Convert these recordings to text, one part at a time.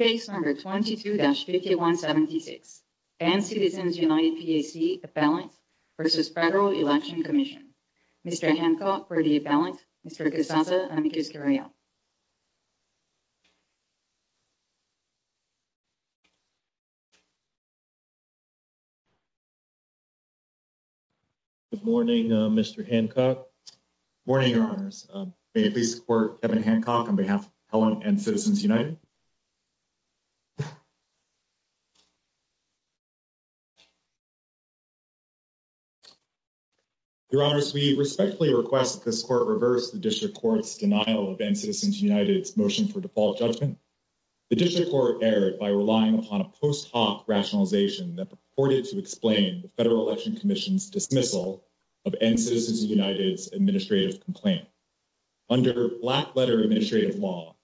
Appellant v. Federal Election Commission. Mr. Hancock for the appellant, Mr. Guzmanza and Ms. Guerrero. Thank you. Good morning, Mr. Hancock. Good morning, Your Honors. May I please report Kevin Hancock on behalf of the appellant and Citizens United. Your Honors, we respectfully request that this Court reverse the District Court's denial of End Citizens United's motion for default judgment. The District Court erred by relying upon a post hoc rationalization that purported to explain the Federal Election Commission's dismissal of End Citizens United's administrative complaint. Under black-letter administrative law,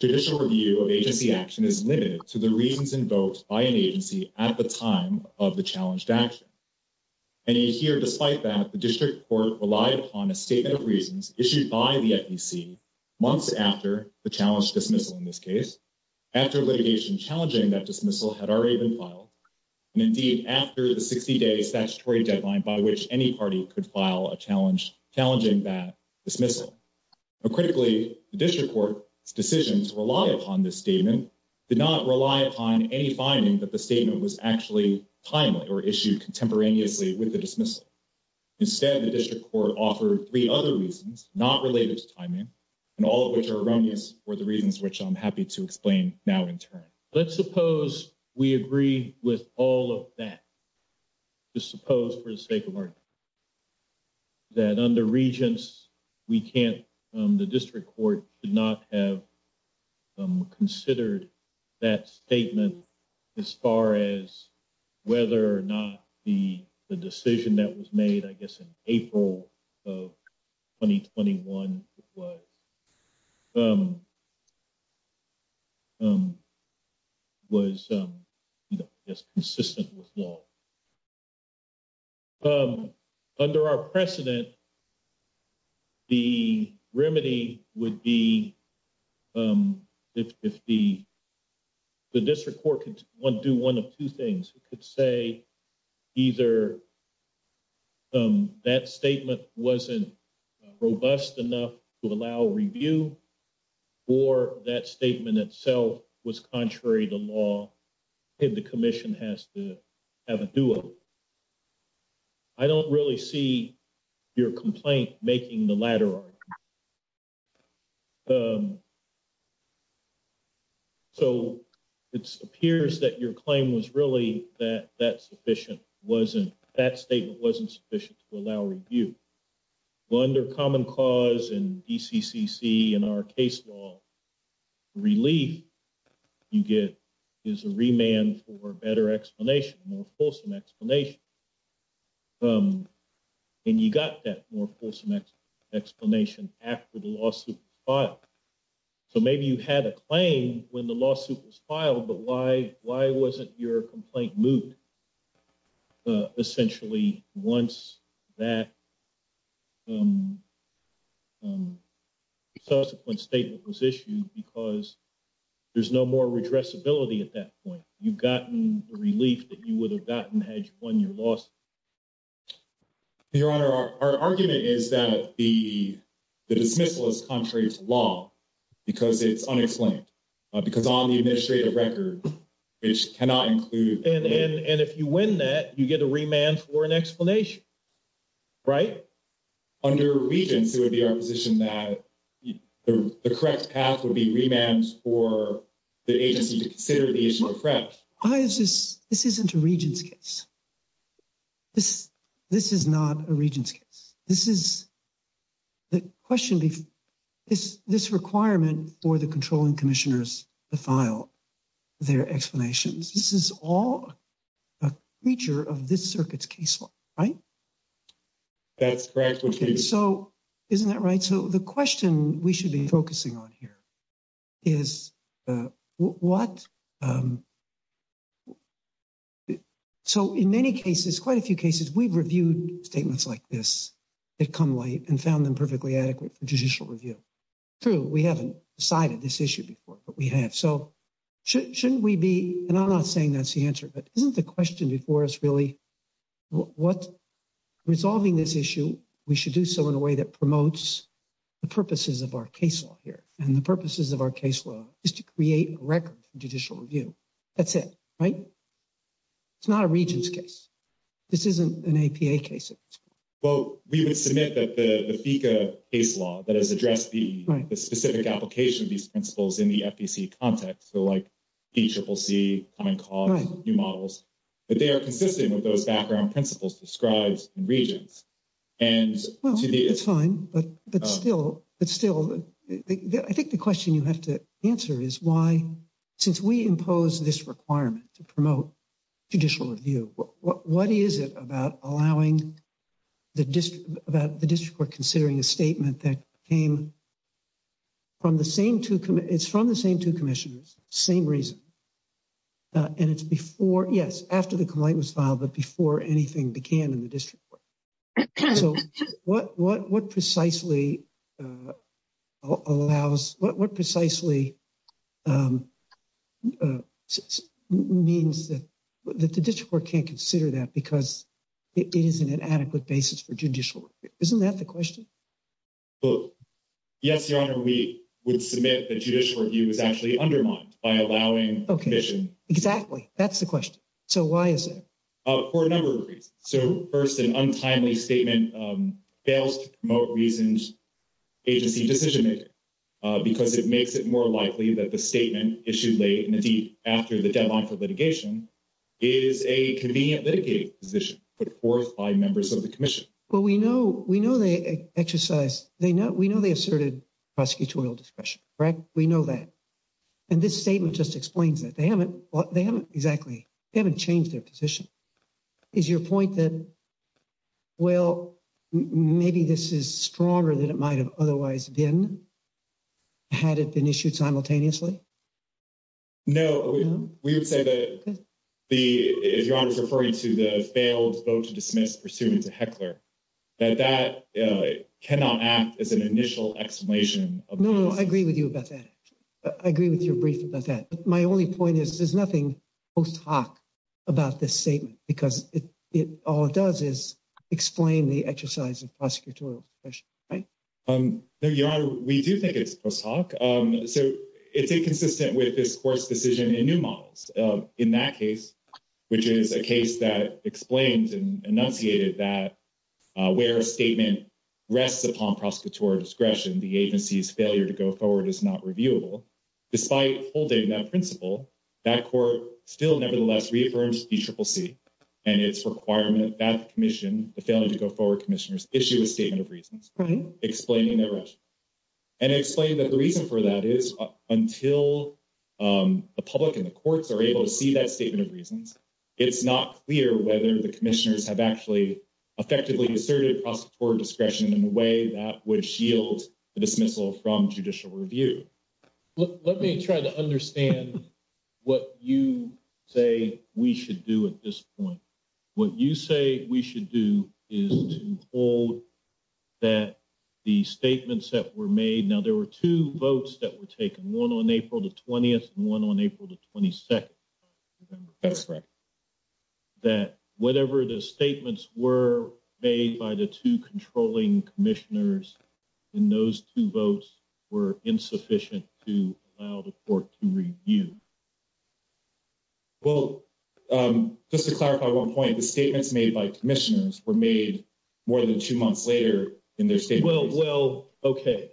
judicial review of agency action is limited to the reasons invoked by an agency at the time of the challenged action. And you hear, despite that, the District Court relied upon a statement of reasons issued by the FEC months after the challenged dismissal in this case, after litigation challenging that dismissal had already been filed, and indeed after the 60-day statutory deadline by which any party could file a challenging that dismissal. Now, critically, the District Court's decision to rely upon this statement did not rely upon any finding that the statement was actually timely or issued contemporaneously with the dismissal. Instead, the District Court offered three other reasons not related to timing, and all of which are erroneous for the reasons which I'm happy to explain now in turn. Let's suppose we agree with all of that. Let's suppose, for the sake of argument, that under Regents, we can't, the District Court could not have considered that statement as far as whether or not the decision that was made, I guess, in April of 2021 was. You know, as consistent with law. Under our precedent, the remedy would be if the District Court could do one of two things. It could say either that statement wasn't robust enough to allow review, or that statement itself was contrary to law, and the Commission has to have a do-over. I don't really see your complaint making the latter argument. So it appears that your claim was really that that statement wasn't sufficient to allow review. Well, under Common Cause and DCCC and our case law, relief you get is a remand for better explanation, more fulsome explanation. And you got that more fulsome explanation after the lawsuit was filed. So maybe you had a claim when the lawsuit was filed, but why wasn't your complaint moved, essentially, once that resuscitation statement was issued? Because there's no more redressability at that point. You've gotten the relief that you would have gotten had you won your lawsuit. Your Honor, our argument is that the dismissal is contrary to law because it's unexplained. Because on the administrative record, it cannot include… And if you win that, you get a remand for an explanation. Right? Under Regents, it would be our position that the correct path would be remands for the agency to consider the issue of threats. This isn't a Regents' case. This is not a Regents' case. This is the question. This requirement for the controlling commissioners to file their explanations, this is all a feature of this circuit's case law. Right? That's correct. So isn't that right? So the question we should be focusing on here is what… So in many cases, quite a few cases, we've reviewed statements like this that come late and found them perfectly adequate for judicial review. True, we haven't decided this issue before, but we have. So shouldn't we be… And I'm not saying that's the answer, but isn't the question before us really what… Resolving this issue, we should do so in a way that promotes the purposes of our case law here. And the purposes of our case law is to create a record for judicial review. That's it. Right? It's not a Regents' case. This isn't an APA case. Well, we would submit that the FECA case law that has addressed the specific application of these principles in the FEC context, so like DCCC, Common Cause, new models, that they are consistent with those background principles described in Regents. Well, that's fine. But still, I think the question you have to answer is why, since we impose this requirement to promote judicial review, what is it about allowing the district court considering a statement that came from the same two… It's from the same two commissioners, same reason. And it's before… Yes, after the complaint was filed, but before anything began in the district court. So what precisely allows… What precisely means that the district court can't consider that because it is an inadequate basis for judicial review? Isn't that the question? Well, yes, Your Honor, we would submit that judicial review is actually undermined by allowing… Okay. Exactly. That's the question. So why is it? For a number of reasons. So, first, an untimely statement fails to promote Regents' agency decision-making because it makes it more likely that the statement issued late and indeed after the deadline for litigation is a convenient litigating position put forth by members of the commission. Well, we know they exercise… We know they asserted prosecutorial discretion, right? We know that. And this statement just explains it. They haven't exactly… They haven't changed their position. Is your point that, well, maybe this is stronger than it might have otherwise been had it been issued simultaneously? No, we would say that the… Your Honor is referring to the failed vote to dismiss pursuant to Heckler, that that cannot act as an initial explanation. No, I agree with you about that. I agree with your brief about that. But my only point is there's nothing post hoc about this statement because all it does is explain the exercise of prosecutorial discretion, right? No, Your Honor, we do think it's post hoc. So it's inconsistent with this court's decision in new models. In that case, which is a case that explains and enunciated that where a statement rests upon prosecutorial discretion, the agency's failure to go forward is not reviewable. Despite holding that principle, that court still nevertheless reaffirms DCCC and its requirement that the commission, the failure to go forward commissioners, issue a statement of reasons explaining their action. And it explains that the reason for that is until the public and the courts are able to see that statement of reasons, it's not clear whether the commissioners have actually effectively asserted prosecutorial discretion in a way that would shield the dismissal from judicial review. Let me try to understand what you say we should do at this point. What you say we should do is to hold that the statements that were made. Now, there were two votes that were taken, one on April the 20th and one on April the 22nd. That's right. That whatever the statements were made by the two controlling commissioners in those two votes were insufficient to allow the court to review. Well, just to clarify one point, the statements made by commissioners were made more than two months later in their statements. Well, okay.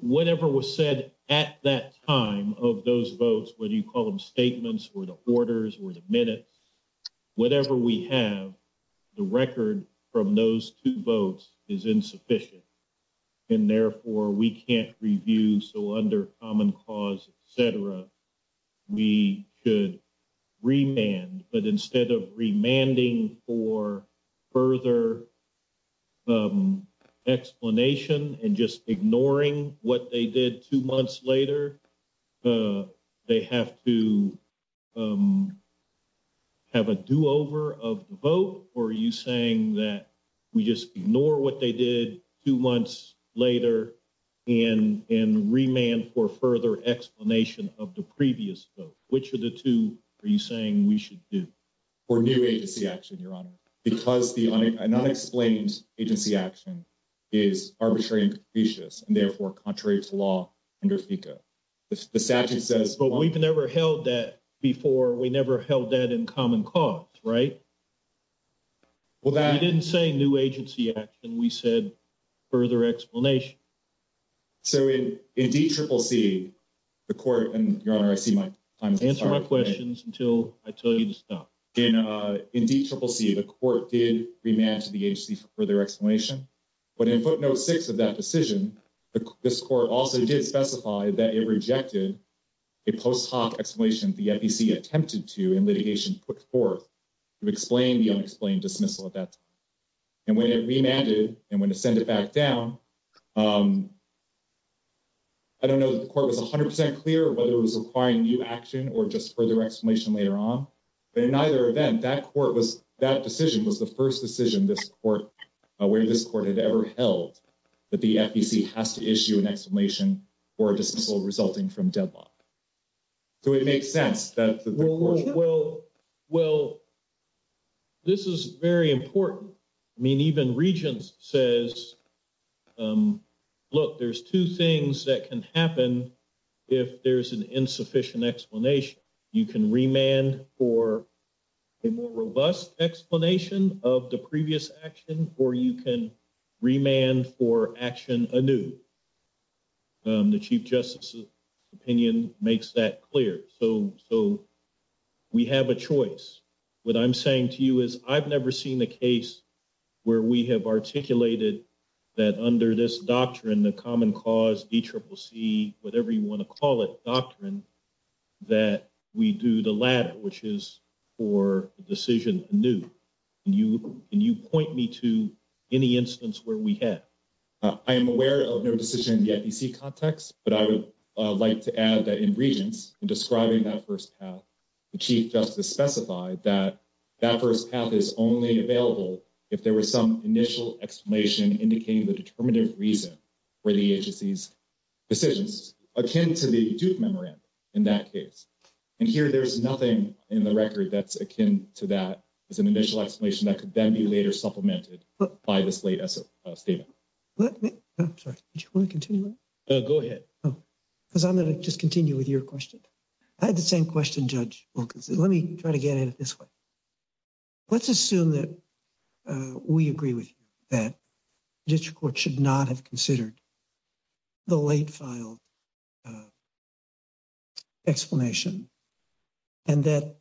Whatever was said at that time of those votes, whether you call them statements or the orders or the minutes, whatever we have, the record from those two votes is insufficient. And therefore, we can't review. So under common cause, et cetera, we should remand. But instead of remanding for further explanation and just ignoring what they did two months later, they have to have a do-over of the vote? Or are you saying that we just ignore what they did two months later and remand for further explanation of the previous vote? Which of the two are you saying we should do? Review agency action, Your Honor, because an unexplained agency action is arbitrary and suspicious and therefore contraries to law under FECA. But we've never held that before. We never held that in common cause, right? Well, I didn't say new agency action. We said further explanation. So in DCCC, the court – and Your Honor, I see my time is up. Answer my questions until I tell you to stop. In DCCC, the court did remand to the agency for further explanation. But in footnote 6 of that decision, this court also did specify that it rejected a post hoc explanation the FECA attempted to in litigation put forth to explain the unexplained dismissal at that time. And when it remanded and when it sent it back down, I don't know if the court was 100 percent clear or whether it was requiring new action or just further explanation later on. But in either event, that court was – that decision was the first decision this court – where this court has ever held that the FECA has to issue an explanation for a dismissal resulting from deadlock. So it makes sense that – Well, this is very important. I mean, even Regents says, look, there's two things that can happen if there's an insufficient explanation. You can remand for a more robust explanation of the previous action or you can remand for action anew. The Chief Justice's opinion makes that clear. So we have a choice. What I'm saying to you is I've never seen a case where we have articulated that under this doctrine, the common cause, DCCC, whatever you want to call it, doctrine, that we do the latter, which is for decision anew. Can you point me to any instance where we have? I am aware of no decision in the FEC context, but I would like to add that in Regents, in describing that first path, the Chief Justice specified that that first path is only available if there was some initial explanation indicating the determinative reason for the agency's decisions, which is akin to the judge memorandum in that case. And here there's nothing in the record that's akin to that as an initial explanation that could then be later supplemented by this late statement. I'm sorry. Do you want to continue? Go ahead. Because I'm going to just continue with your question. I had the same question, Judge Wilkinson. Let me try to get at it this way. Let's assume that we agree with you that district court should not have considered the late filed explanation and that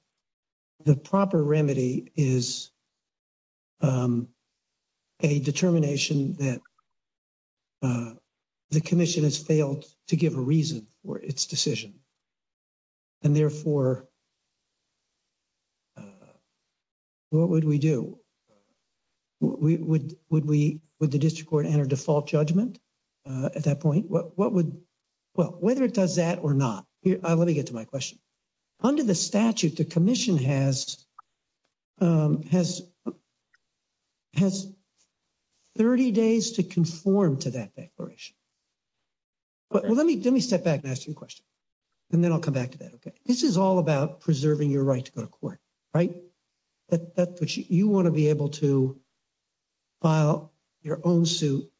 the proper remedy is a determination that the commission has failed to give a reason for its decision. And therefore, what would we do? Would we – would the district court enter default judgment at that point? What would – well, whether it does that or not. Let me get to my question. Under the statute, the commission has 30 days to conform to that declaration. Let me step back and ask you a question, and then I'll come back to that, okay? This is all about preserving your right to go to court, right? But you want to be able to file your own suit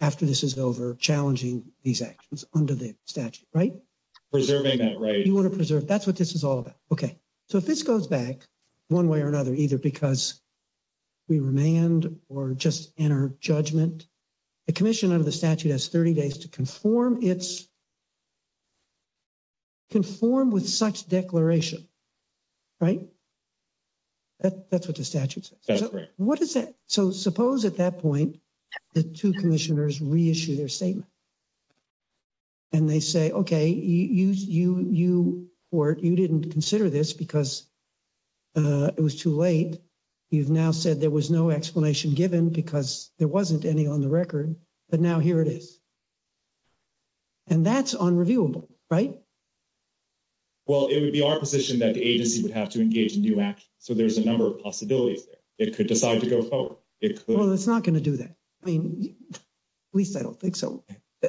after this is over, challenging these actions under the statute, right? Preserving that right. You want to preserve – that's what this is all about. Okay. So if this goes back one way or another, either because we remand or just enter judgment, the commission under the statute has 30 days to conform its – conform with such declaration, right? That's what the statute says. That's correct. So suppose at that point the two commissioners reissue their statement and they say, okay, you didn't consider this because it was too late. You've now said there was no explanation given because there wasn't any on the record, but now here it is. And that's unreviewable, right? Well, it would be our position that the agency would have to engage in new action. So there's a number of possibilities there. It could decide to go forward. Well, it's not going to do that. I mean, at least I don't think so.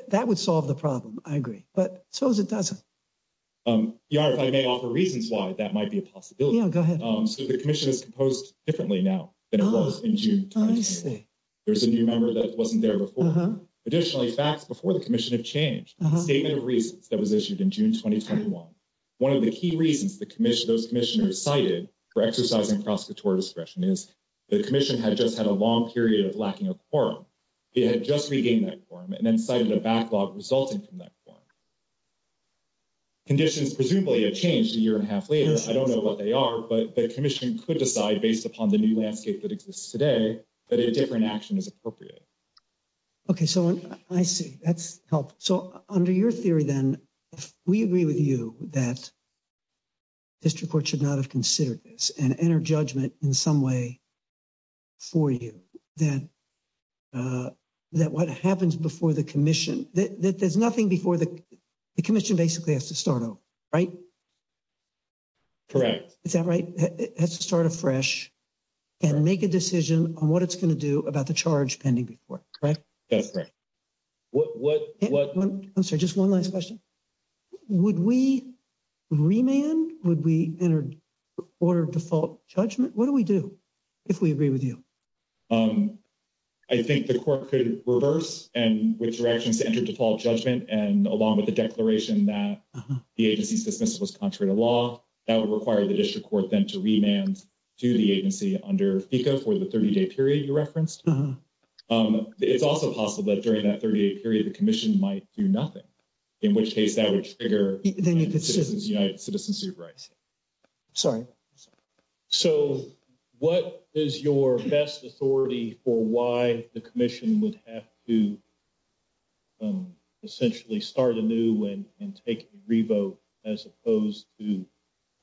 That would solve the problem, I agree. But suppose it doesn't. Your Honor, if I may offer reasons why that might be a possibility. Yeah, go ahead. So the commission is composed differently now than it was in June 2010. There's a new member that wasn't there before. Additionally, facts before the commission have changed. Statement of reasons that was issued in June 2010. One of the key reasons those commissioners cited for exercising prosecutorial discretion is the commission had just had a long period of lacking a quorum. They had just regained that quorum and then cited a backlog resulting from that quorum. Conditions presumably have changed a year and a half later. I don't know what they are, but the commission could decide based upon the new landscape that exists today that a different action is appropriate. Okay, so I see. That's helpful. So under your theory then, we agree with you that district court should not have considered this and enter judgment in some way for you. That what happens before the commission, there's nothing before the commission basically has to start over, right? Is that right? It has to start afresh and make a decision on what it's going to do about the charge pending before, correct? That's correct. Just one last question. Would we remand? Would we order default judgment? What do we do if we agree with you? I think the court could reverse and with directions to enter default judgment and along with the declaration that the agency's dismissal is contrary to law. That would require the district court then to remand to the agency under FECA for the 30-day period you referenced. It's also possible that during that 30-day period, the commission might do nothing. In which case, that would trigger Citizens United Citizenship Rights. Sorry. So what is your best authority for why the commission would have to essentially start anew and take a revote as opposed to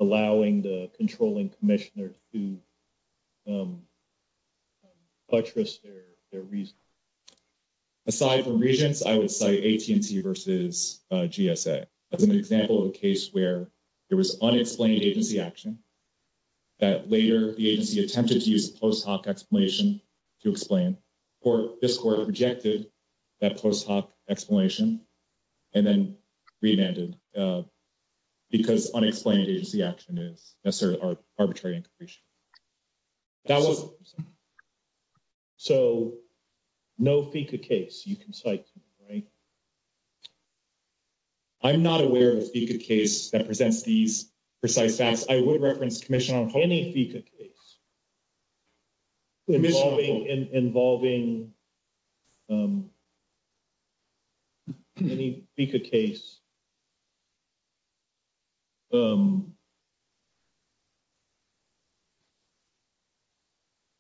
allowing the controlling commissioner to buttress their reasons? Aside from reasons, I would say AT&T versus GSA. I'll give you an example of a case where there was unexplained agency action that later the agency attempted to use a post hoc explanation to explain. Or this court rejected that post hoc explanation and then remanded because unexplained agency action is a sort of arbitrary incursion. So no FECA case, you can cite me, right? I'm not aware of a FECA case that presents these precise facts. I would reference the commission on any FECA case involving any FECA case.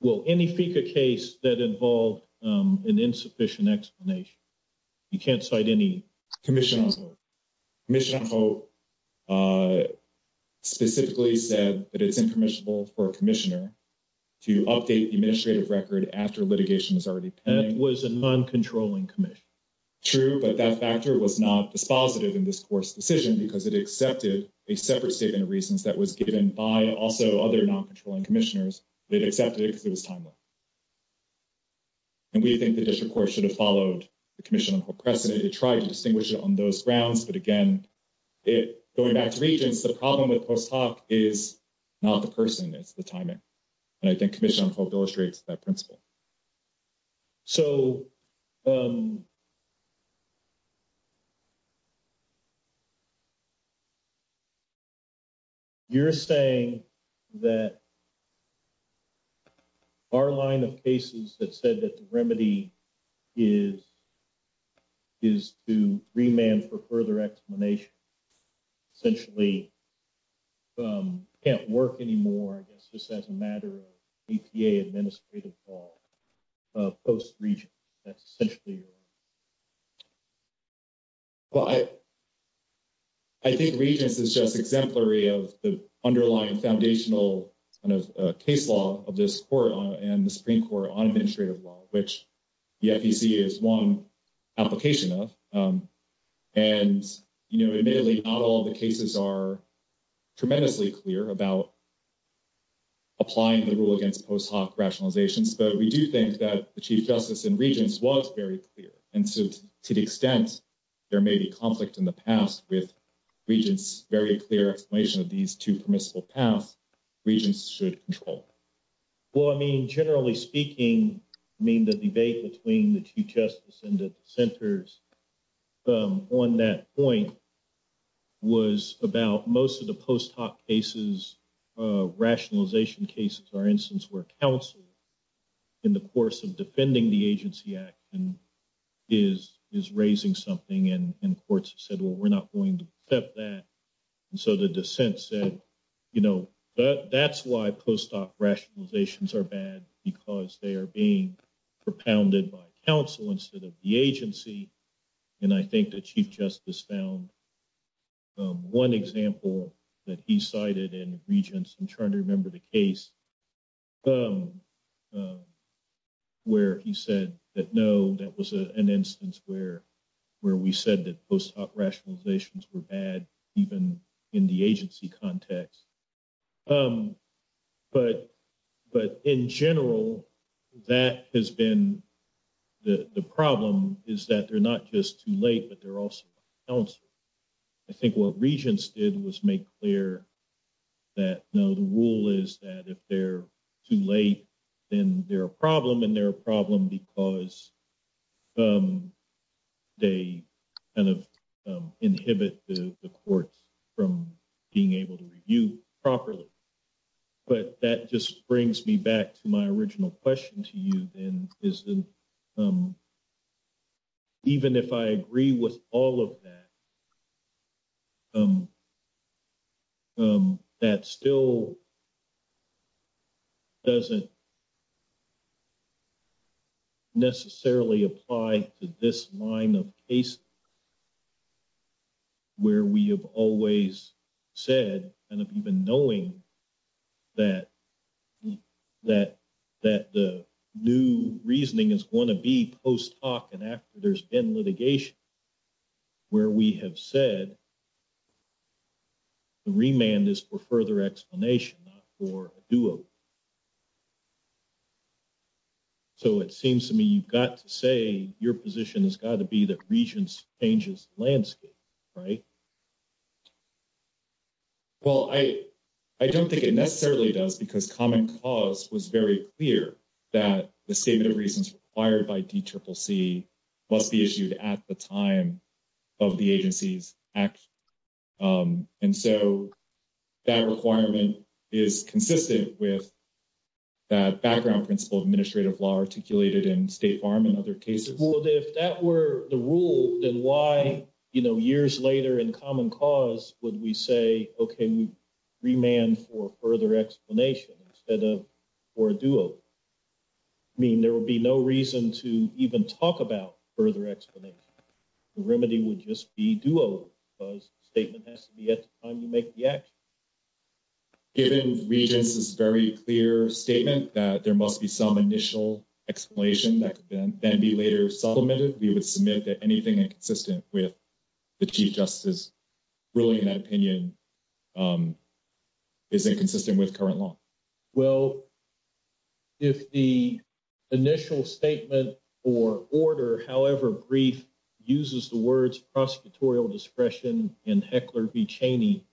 Well, any FECA case that involved an insufficient explanation. You can't cite any. Commission on HOPE. Commission on HOPE specifically said that it's impermissible for a commissioner to update the administrative record after litigation is already planned. It was a non-controlling commission. True, but that factor was not dispositive in this court's decision because it accepted a separate statement of reasons that was given by also other non-controlling commissioners. It accepted it because it was timely. And we think the district court should have followed the commission on HOPE precedent to try to distinguish it on those grounds. But again, going back to reasons, the problem with post hoc is not the person, it's the timing. And I think commission on HOPE illustrates that principle. So. You're saying that our line of cases that said that the remedy is to remand for further explanation. Essentially. Can't work anymore. It's just as a matter of EPA administrative law. Post regions. Essentially. Well, I. I think regions is just exemplary of the underlying foundational case law of this court and the Supreme Court on administrative law, which the FECA is one application of. And, you know, admittedly, not all the cases are tremendously clear about. Applying the rule against post hoc rationalizations, but we do think that the chief justice and regions was very clear. And to the extent there may be conflict in the past with regions, very clear explanation of these two permissible paths regions should control. Well, I mean, generally speaking, I mean, the debate between the chief justice and the centers on that point. Was about most of the post hoc cases, rationalization cases, for instance, where counsel. In the course of defending the agency act and is is raising something and courts said, well, we're not going to accept that. So, the descent said, you know, that's why post hoc rationalizations are bad because they're being propounded by counsel instead of the agency. And I think the chief justice down 1 example that he cited in regions and trying to remember the case. Where he said that, no, that was an instance where where we said that rationalizations were bad, even in the agency context. But but in general, that has been the problem is that they're not just too late, but they're also. I think what regions did was make clear that the rule is that if they're too late, then they're a problem and they're a problem because. They kind of inhibit the court from being able to review properly, but that just brings me back to my original question to you. And even if I agree with all of that. That still doesn't. Necessarily apply to this line of. Where we have always said, and if you've been knowing that. That that the new reasoning is going to be post hoc and after there's been litigation. Where we have said. Remand is for further explanation for. Do. So, it seems to me, you've got to say your position has got to be that regions changes landscape. Right? Well, I, I don't think it necessarily does, because common cause was very clear that the statement of reasons required by must be issued at the time. Of the agencies. And so that requirement is consistent with. Background principle of administrative law articulated in state farm and other cases that were the rule. Then why, you know, years later in common cause, would we say, okay, you. Remand for further explanation instead of. Or do. I mean, there will be no reason to even talk about further explanation. Remedy would just be do a statement has to be at the time you make the action. Given regions is very clear statement that there must be some initial explanation that can then be later supplemented. You would submit that anything consistent with. The justice ruling that opinion. Is it consistent with current law? Well. If the initial statement or order, however, brief uses the words, prosecutorial discretion and heckler be Cheney.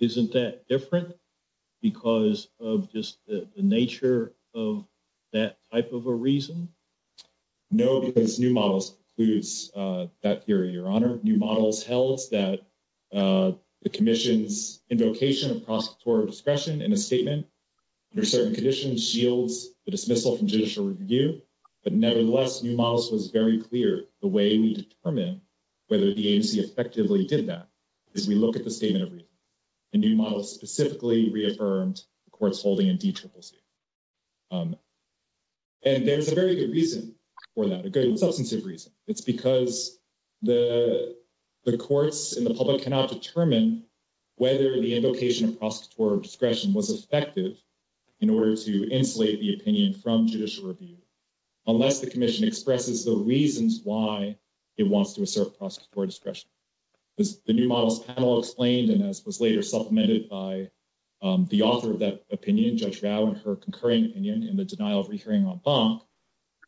Isn't that different? Because of just the nature of that type of a reason. No, because new models includes that theory. Your honor new models tells that the commission's indication of cost for discussion in a statement. There are certain conditions shields dismissal from judicial review. But nevertheless, new models was very clear the way we determine whether the agency effectively did that. If we look at the same every new model specifically reaffirmed, of course, holding a teacher. And there's a very good reason for that. It's because the courts in the public cannot determine whether the indication of process for discretion was effective. In order to insulate the opinion from judicial review. Unless the commission expresses the reasons why it wants to assert process for discretion. The new model explains, and this was later supplemented by the author of that opinion. Judge her concurring opinion in the denial of hearing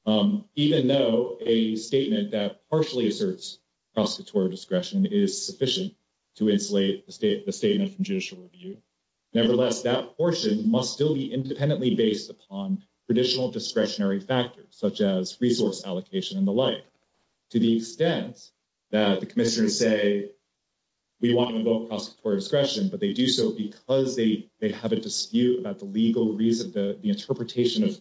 on. Even though a statement that partially asserts discretion is sufficient to insulate the statement from judicial review. Nevertheless, that portion must still be independently based upon traditional discretionary factors, such as resource allocation and the like. To the extent that the commissioners say. We want to go for discretion, but they do so because they, they have a dispute about the legal reason that the interpretation of.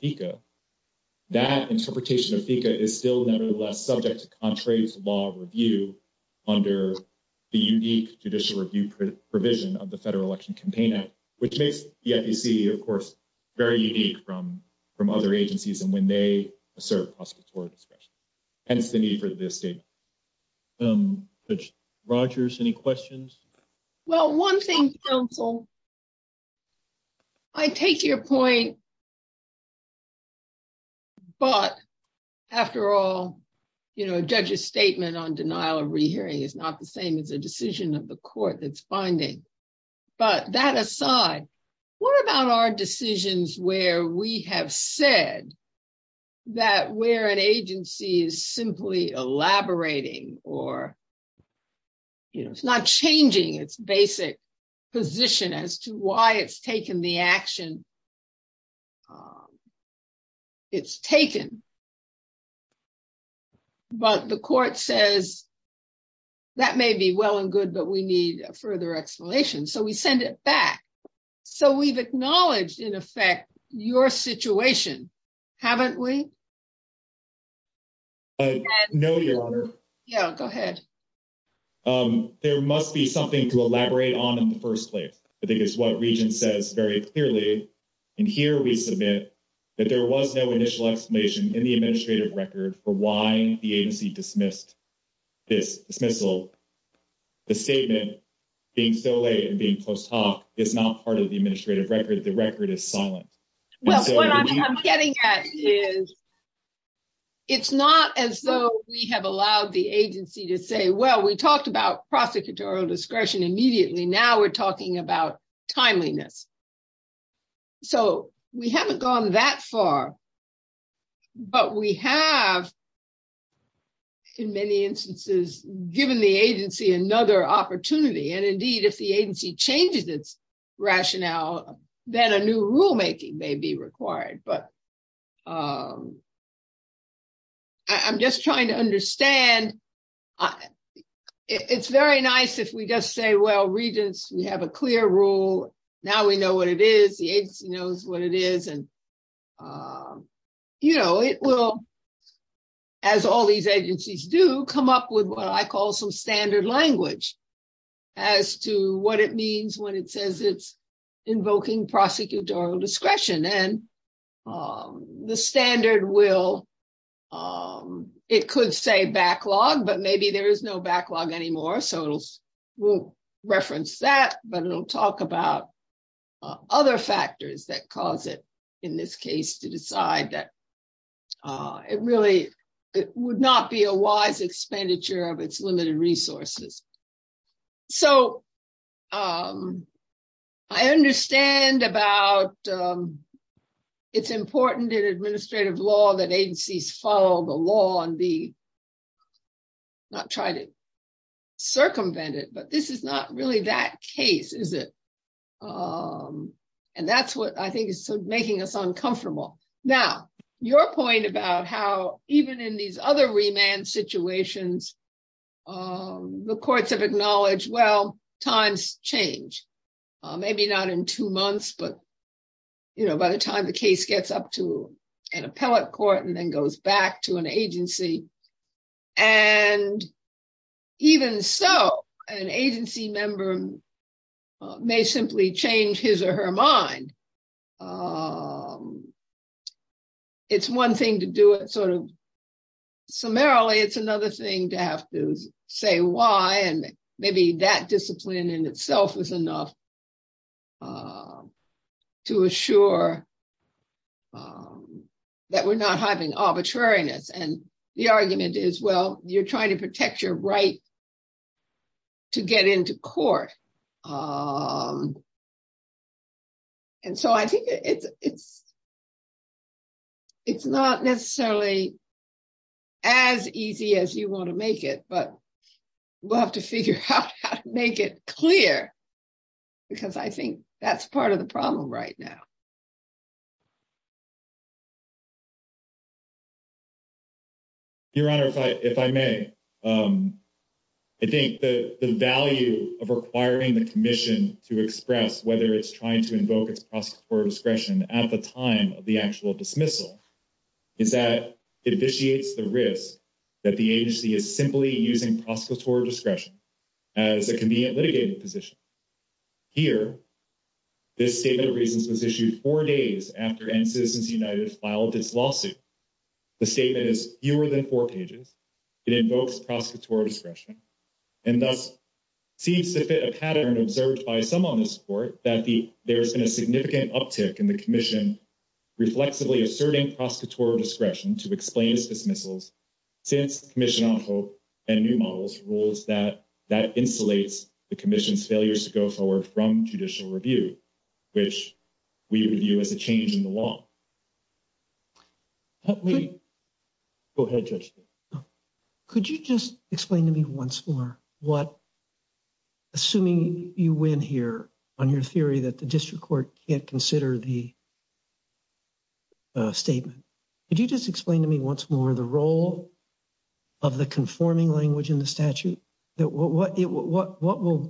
That interpretation of is still subject to law review. Under the judicial review provision of the federal election campaign, which makes the, of course. Very unique from from other agencies, and when they serve. And if they need for this. Rogers any questions. Well, 1 thing. I take your point. But. After all, you know, a judge's statement on denial of rehearing is not the same as the decision of the court that's finding. But that aside, what about our decisions where we have said. That where an agency is simply elaborating or. It's not changing its basic position as to why it's taken the action. It's taken. But the court says. That may be well and good, but we need further explanation. So we send it back. So, we've acknowledged in effect your situation. Haven't we? No, your honor. Yeah, go ahead. There must be something to elaborate on in the 1st place. I think it's what region says very clearly. And here we submit that there was no initial explanation in the administrative record for why the agency dismissed. The statement being so late and being post hoc is not part of the administrative record. The record is silent. Well, what I'm getting at is. It's not as though we have allowed the agency to say, well, we talked about processing to our discretion immediately. Now we're talking about timeliness. So, we haven't gone that far, but we have. In many instances, given the agency another opportunity, and indeed, if the agency changes its rationale that a new rulemaking may be required, but. I'm just trying to understand. It's very nice if we just say, well, regions, we have a clear rule. Now we know what it is. The agency knows what it is and. You know, it will. As all these agencies do come up with what I call some standard language as to what it means when it says it's invoking prosecutorial discretion and the standard will. It could say backlog, but maybe there is no backlog anymore. So we'll reference that, but it'll talk about other factors that cause it in this case to decide that. It really would not be a wise expenditure of its limited resources. So. I understand about. It's important in administrative law that agencies follow the law and be. Not try to circumvent it, but this is not really that case, is it? And that's what I think is making us uncomfortable. Now, your point about how even in these other remand situations. The courts have acknowledged. Well, times change, maybe not in two months, but, you know, by the time the case gets up to an appellate court and then goes back to an agency. And even so, an agency member. May simply change his or her mind. It's one thing to do it sort of. Summarily, it's another thing to have to say why and maybe that discipline in itself is enough. To assure. That we're not having arbitrariness and the argument is, well, you're trying to protect your right. To get into court. And so I think. It's not necessarily as easy as you want to make it, but we'll have to figure out how to make it clear because I think that's part of the problem right now. Your Honor, if I may. I think the value of requiring the commission to express whether it's trying to invoke a process for discretion at the time of the actual dismissal. Is that initiates the risk that the agency is simply using process for discretion as a convenient litigation position. Here, this statement of reasons was issued 4 days after Citizens United filed its lawsuit. The statement is fewer than 4 pages. It invokes process for discretion. And that seems to fit a pattern observed by some on the support that there's been a significant uptick in the commission. Reflectively asserting process for discretion to explain dismissals. Commission on hope and new models rules that that insulates the commission's failures to go forward from judicial review, which we review as a change in the law. Could you just explain to me once more what. Assuming you win here on your theory that the district court can't consider the statement. Could you just explain to me once more the role of the conforming language in the statute? What role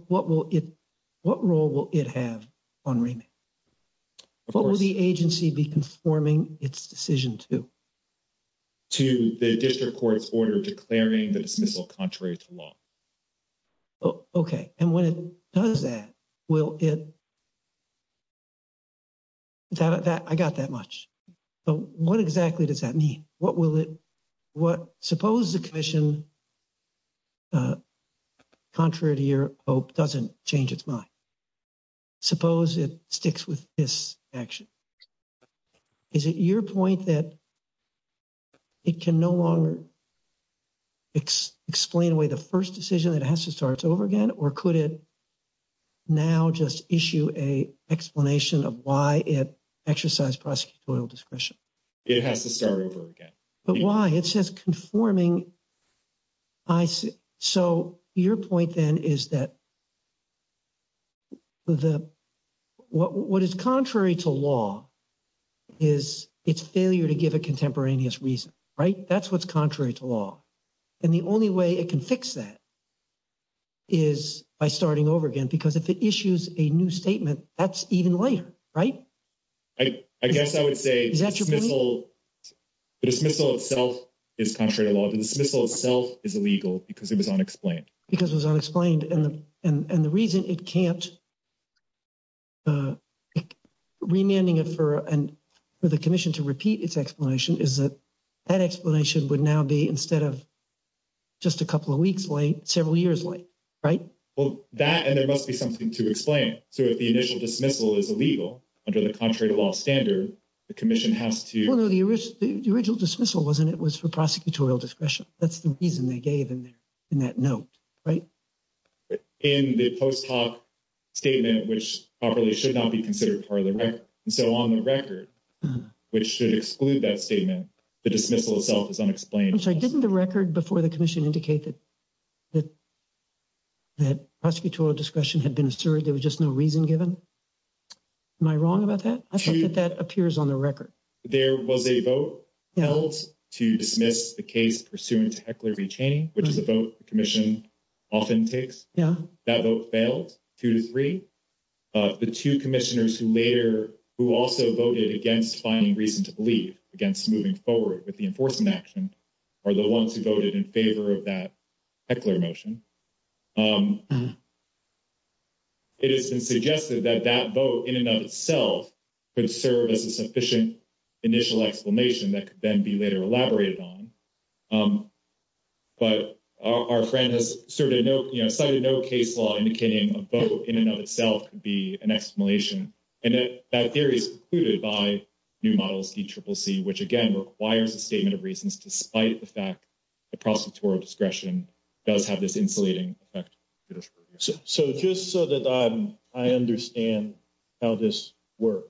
will it have on remand? What will the agency be conforming its decision to? To the district court's order declaring the dismissal contrary to law. Okay. And when it does that, will it. I got that much. But what exactly does that mean? What will it, what suppose the commission contrary to your hope doesn't change its mind. Suppose it sticks with this action. Is it your point that it can no longer explain away the first decision that has to start over again? Or could it now just issue a explanation of why it exercise discretion? It has to start over again. But why? It says conforming. So your point then is that. What is contrary to law is its failure to give a contemporaneous reason, right? That's what's contrary to law. And the only way it can fix that is by starting over again. Because if it issues a new statement, that's even later, right? I guess I would say. The dismissal itself is contrary to law. The dismissal itself is illegal because it was unexplained. Because it was unexplained. And the reason it can't remanding it for the commission to repeat its explanation is that that explanation would now be instead of just a couple of weeks late, several years late, right? Well, that and there must be something to explain. So if the initial dismissal is illegal, under the contrary to law standard, the commission has to. The original dismissal wasn't it was for prosecutorial discretion. That's the reason they gave in that note, right? In the post hoc statement, which probably should not be considered for the record. So on the record, which should exclude that statement, the dismissal itself is unexplained. And so didn't the record before the commission indicated that. That prosecutorial discretion had been asserted, there was just no reason given. Am I wrong about that? I think that that appears on the record. There was a vote held to dismiss the case pursuant to Heckler v. Cheney, which is a vote the commission often takes. Yeah, that vote failed two to three. The two commissioners who later, who also voted against finding reason to believe against moving forward with the enforcement action are the ones who voted in favor of that Heckler motion. It has been suggested that that vote in and of itself could serve as a sufficient initial explanation that could then be later elaborated on. But our friend has cited no case law indicating a vote in and of itself could be an explanation. And that theory is precluded by new models DCCC, which again requires a statement of reasons despite the fact the prosecutorial discretion does have this insulating effect. So just so that I understand how this works.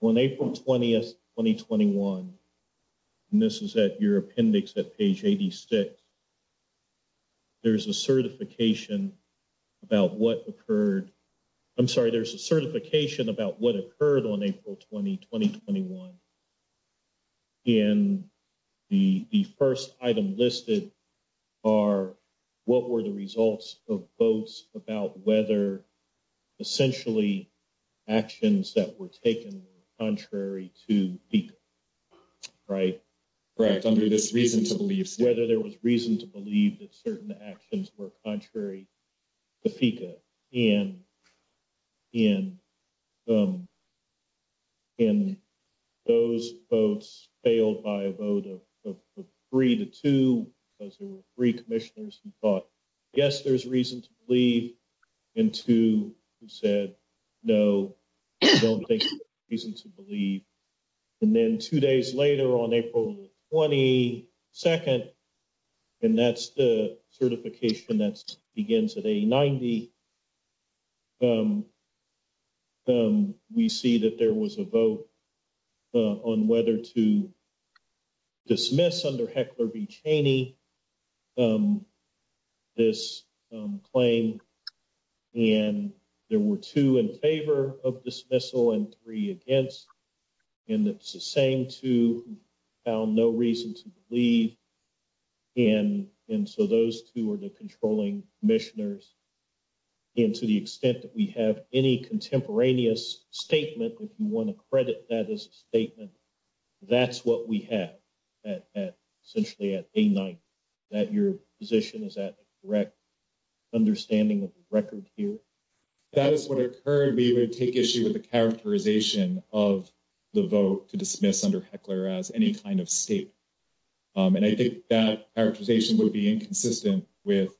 On April 20th, 2021, and this is at your appendix at page 86, there's a certification about what occurred. I'm sorry, there's a certification about what occurred on April 20, 2021. And the first item listed are what were the results of votes about whether essentially actions that were taken contrary to PICA, right? Correct. Under this reason to believe whether there was reason to believe that certain actions were contrary to PICA. And those votes failed by a vote of three to two, because there were three commissioners who thought, yes, there's reason to believe, and two who said, no, I don't think there's reason to believe. And then two days later on April 22nd, and that's the certification that begins at 890, we see that there was a vote on whether to dismiss under Heckler v. Cheney this claim. And there were two in favor of dismissal and three against, and the same two found no reason to believe. And so those two are the controlling commissioners. And to the extent that we have any contemporaneous statement, if you want to credit that as a statement, that's what we have at essentially at 890, that your position is that correct understanding of the record here. That is what occurred, but you would take issue with the characterization of the vote to dismiss under Heckler as any kind of statement. And I think that characterization would be inconsistent with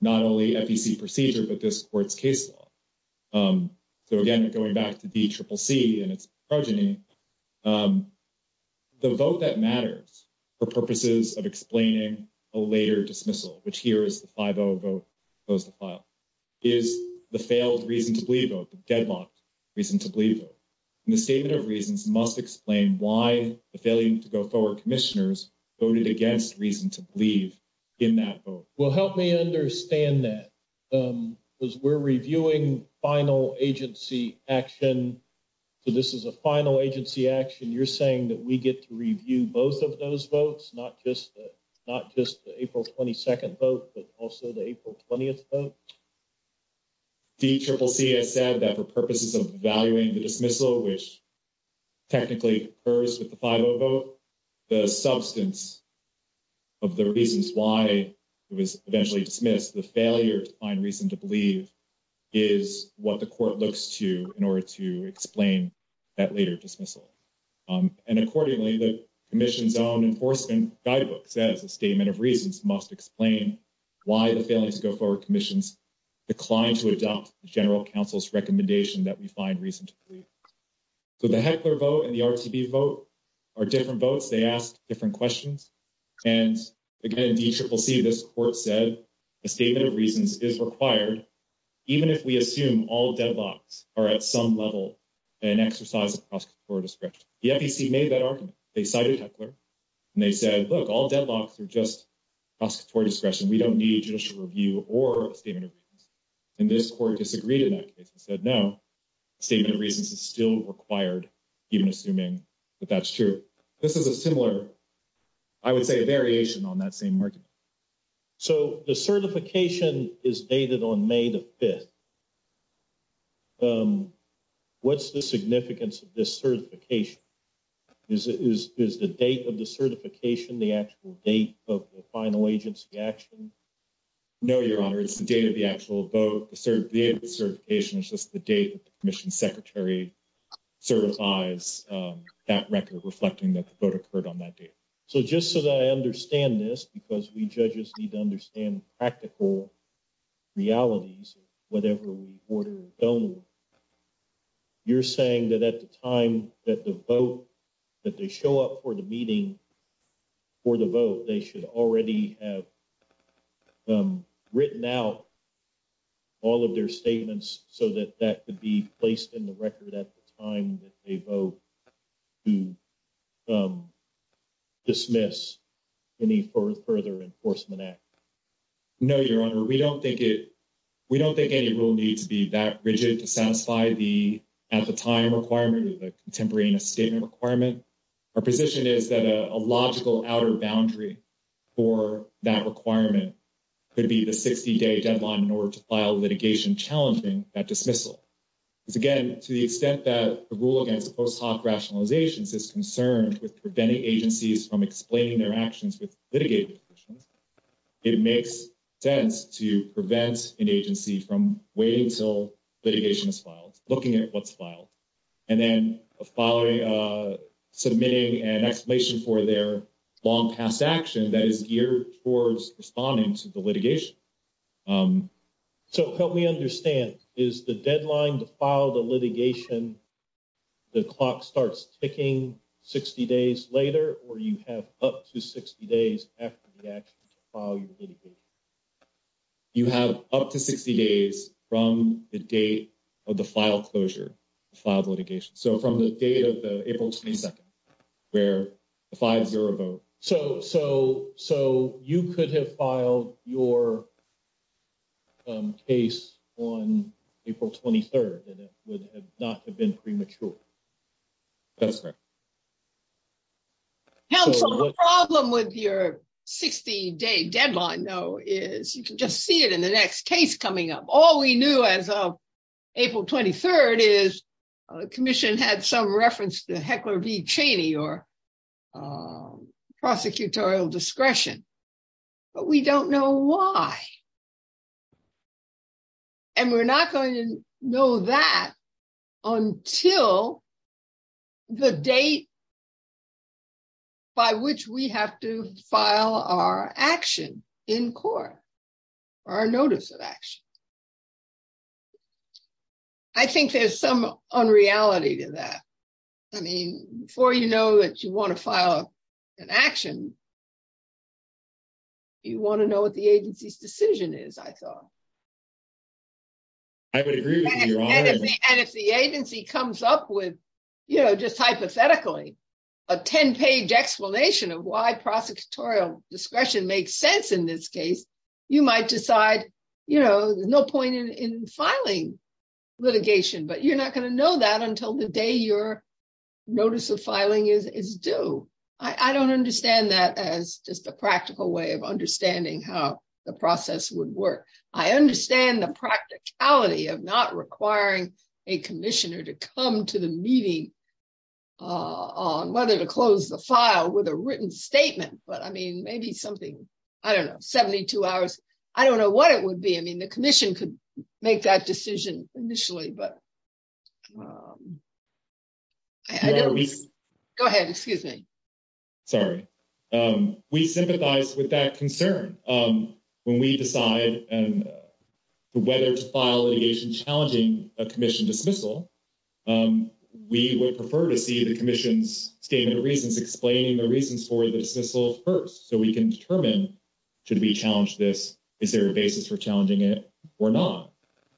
not only FEC procedure, but this court's case law. So again, going back to DCCC and its progeny, the vote that matters for purposes of explaining a later dismissal, which here is the 5-0 vote, is the failed reason to believe vote, the deadlocked reason to believe vote. And the statement of reasons must explain why the failing to go forward commissioners voted against reason to believe in that vote. Well, help me understand that. Because we're reviewing final agency action. So this is a final agency action. You're saying that we get to review both of those votes, not just the April 22nd vote, but also the April 20th vote? DCCC has said that for purposes of valuing the dismissal, which technically occurs with the 5-0 vote, the substance of the reasons why it was eventually dismissed, the failure to find reason to believe, is what the court looks to in order to explain that later dismissal. And accordingly, the commission's own enforcement guidebook says the statement of reasons must explain why the failing to go forward commissions declined to adopt the general counsel's recommendation that we find reason to believe. So the Heckler vote and the RCB vote are different votes. They ask different questions. And again, DCCC, this court said, the statement of reasons is required, even if we assume all deadlocks are at some level an exercise of prosecutorial discretion. The FEC made that argument. They cited Heckler. And they said, look, all deadlocks are just prosecutorial discretion. We don't need judicial review or a statement of reasons. And this court disagreed in that case and said, no, statement of reasons is still required, even assuming that that's true. So this is a similar, I would say a variation on that same argument. So the certification is dated on May the 5th. What's the significance of this certification? Is the date of the certification the actual date of the final agency action? No, Your Honor, it's the date of the actual vote. The date of the certification is just the date that the commission secretary certifies that record, reflecting that the vote occurred on that date. So just so that I understand this, because we judges need to understand practical realities of whatever we order or don't, you're saying that at the time that the vote, that they show up for the meeting for the vote, they should already have written out all of their statements so that that could be placed in the record at the time that they vote to dismiss any further enforcement act? No, Your Honor, we don't think any rule needs to be that rigid to satisfy the at-the-time requirement or the contemporaneous statement requirement. Our position is that a logical outer boundary for that requirement could be the 60-day deadline in order to file litigation challenging that dismissal. Again, to the extent that the rule against post hoc rationalizations is concerned with preventing agencies from explaining their actions with litigation, it makes sense to prevent an agency from waiting until litigation is filed, looking at what's filed, and then submitting an explanation for their long past action that is geared towards responding to the litigation. So help me understand, is the deadline to file the litigation, the clock starts ticking 60 days later, or you have up to 60 days after the action to file your litigation? You have up to 60 days from the date of the file closure, the file of litigation. So from the date of the April 22nd, where the 5-0 vote. So you could have filed your case on April 23rd, and it would not have been premature. The problem with your 60-day deadline, though, is you can just see it in the next case coming up. All we knew as of April 23rd is the commission had some reference to Heckler v. Cheney or prosecutorial discretion, but we don't know why. And we're not going to know that until the date by which we have to file our action in court, our notice of action. I think there's some unreality to that. I mean, before you know that you want to file an action, you want to know what the agency's decision is, I thought. And if the agency comes up with, you know, just hypothetically, a 10-page explanation of why prosecutorial discretion makes sense in this case, you might decide, you know, no point in filing litigation, but you're not going to know that until the day your notice of filing is due. I don't understand that as just a practical way of understanding how the process would work. I understand the practicality of not requiring a commissioner to come to the meeting on whether to close the file with a written statement. But, I mean, maybe something, I don't know, 72 hours. I don't know what it would be. I mean, the commission could make that decision initially. Go ahead. Excuse me. Sorry. We sympathize with that concern. When we decide whether to file litigation challenging a commission dismissal, we would prefer to see the commission's statement of reasons explaining the reasons for the dismissal first, so we can determine should we challenge this, is there a basis for challenging it or not.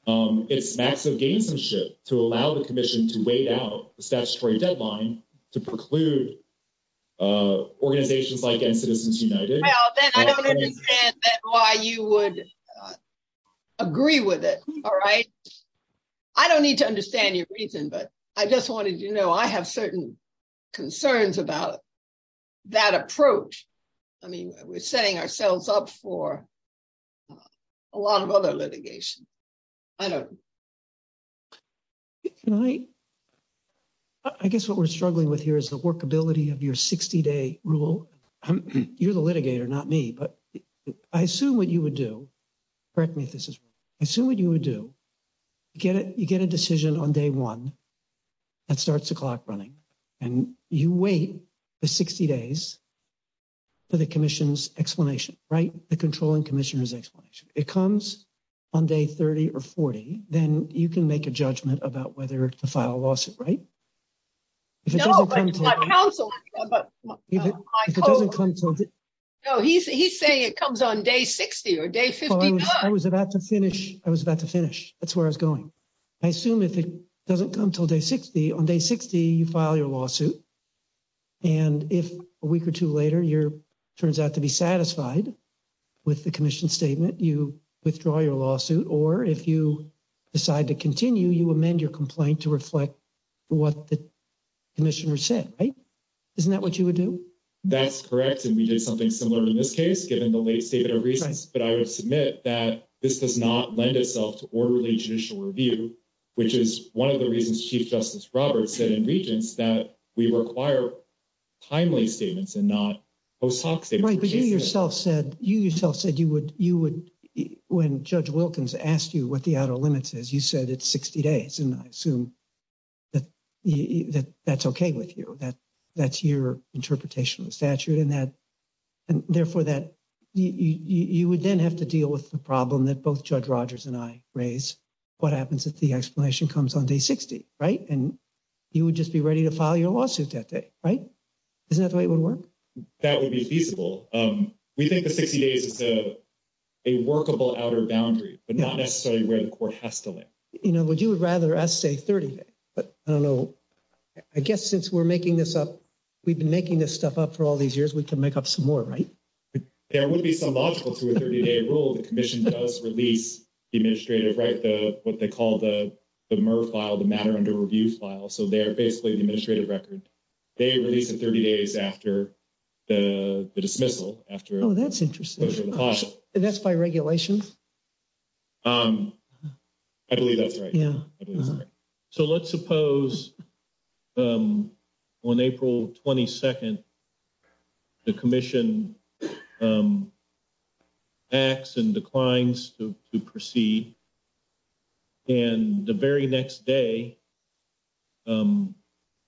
It's max of gamesmanship to allow the commission to wait out the statutory deadline to preclude organizations like End Citizens United. I don't understand why you would agree with it. All right. I don't need to understand your reason, but I just wanted to know. I have certain concerns about that approach. I mean, we're setting ourselves up for a lot of other litigation. I guess what we're struggling with here is the workability of your 60-day rule. You're the litigator, not me, but I assume what you would do, correct me if this is wrong, I assume what you would do, you get a decision on day one that starts the clock running, and you wait the 60 days for the commission's explanation, right? The controlling commissioner's explanation. If it comes on day 30 or 40, then you can make a judgment about whether to file a lawsuit, right? No, but my counsel, he's saying it comes on day 60 or day 50. I was about to finish. I was about to finish. That's where I was going. I assume if it doesn't come until day 60, on day 60, you file your lawsuit, and if a week or two later, it turns out to be satisfied with the commission's statement, you withdraw your lawsuit, or if you decide to continue, you amend your complaint to reflect what the commissioner said, right? Isn't that what you would do? That's correct, and we did something similar in this case, given the late statement of reasons, but I would submit that this does not lend itself to orderly judicial review, which is one of the reasons Chief Justice Roberts said in Regents that we require timely statements and not post hoc statements. That's right, but you yourself said, you yourself said you would, when Judge Wilkins asked you what the out-of-limits is, you said it's 60 days, and I assume that that's okay with you, that that's your interpretation of statute, and therefore that you would then have to deal with the problem that both Judge Rogers and I raised, what happens if the explanation comes on day 60, right? And you would just be ready to file your lawsuit that day, right? Isn't that the way it would work? That would be feasible. We think that 60 days is a workable outer boundary, but not necessarily where the court has to live. You know, would you rather us say 30 days? But, I don't know, I guess since we're making this up, we've been making this stuff up for all these years, we can make up some more, right? There would be some logical to a 30-day rule if the commission does release the administrative, right, what they call the MUR file, the matter under review file, so they're basically an administrative record. They release it 30 days after the dismissal, after the cost. Oh, that's interesting. And that's by regulation? I believe that's right. So let's suppose on April 22nd, the commission acts and declines to proceed, and the very next day,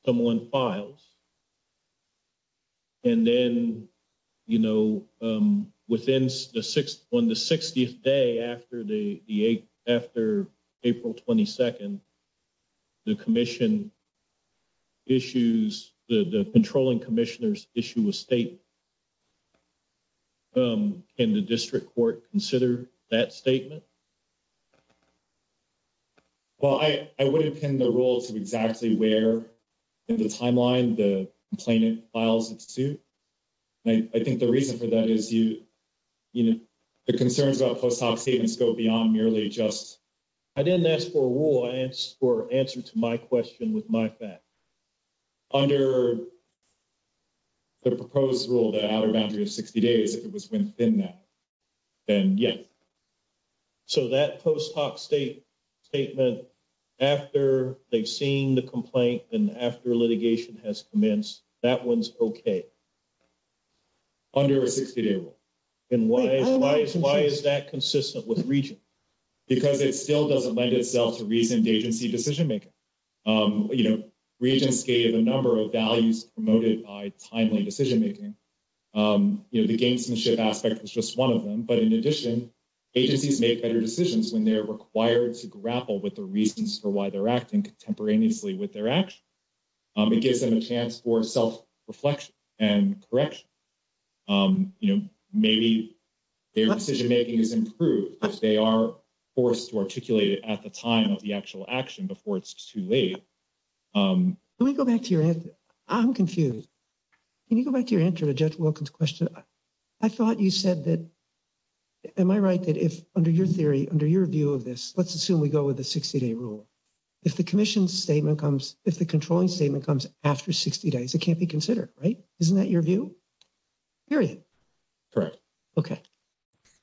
someone files. And then, you know, on the 60th day after April 22nd, the commission issues, the controlling commissioners issue a statement. Can the district court consider that statement? Well, I wouldn't pin the rule to exactly where in the timeline the complainant files it to. And I think the reason for that is, you know, the concerns about post hoc statements go beyond merely just, I didn't ask for a rule, I asked for an answer to my question with my facts. Under the proposed rule, the outer boundary of 60 days, if it was within that, then yes. So that post hoc statement, after they've seen the complaint and after litigation has commenced, that one's okay. Under a 60-day rule. And why is that consistent with region? Because it still doesn't lend itself to region-based decision-making. You know, regions gave a number of values promoted by timely decision-making. You know, the gamesmanship aspect was just one of them. But in addition, agencies make better decisions when they're required to grapple with the reasons for why they're acting contemporaneously with their actions. It gives them a chance for self-reflection and correction. You know, maybe their decision-making is improved because they are forced to articulate it at the time of the actual action before it's too late. Let me go back to your answer. I'm confused. Can you go back to your answer to Judge Wilkins' question? I thought you said that, am I right, that if under your theory, under your view of this, let's assume we go with the 60-day rule. If the commission's statement comes, if the controlling statement comes after 60 days, it can't be considered, right? Isn't that your view? Period. Correct. Okay.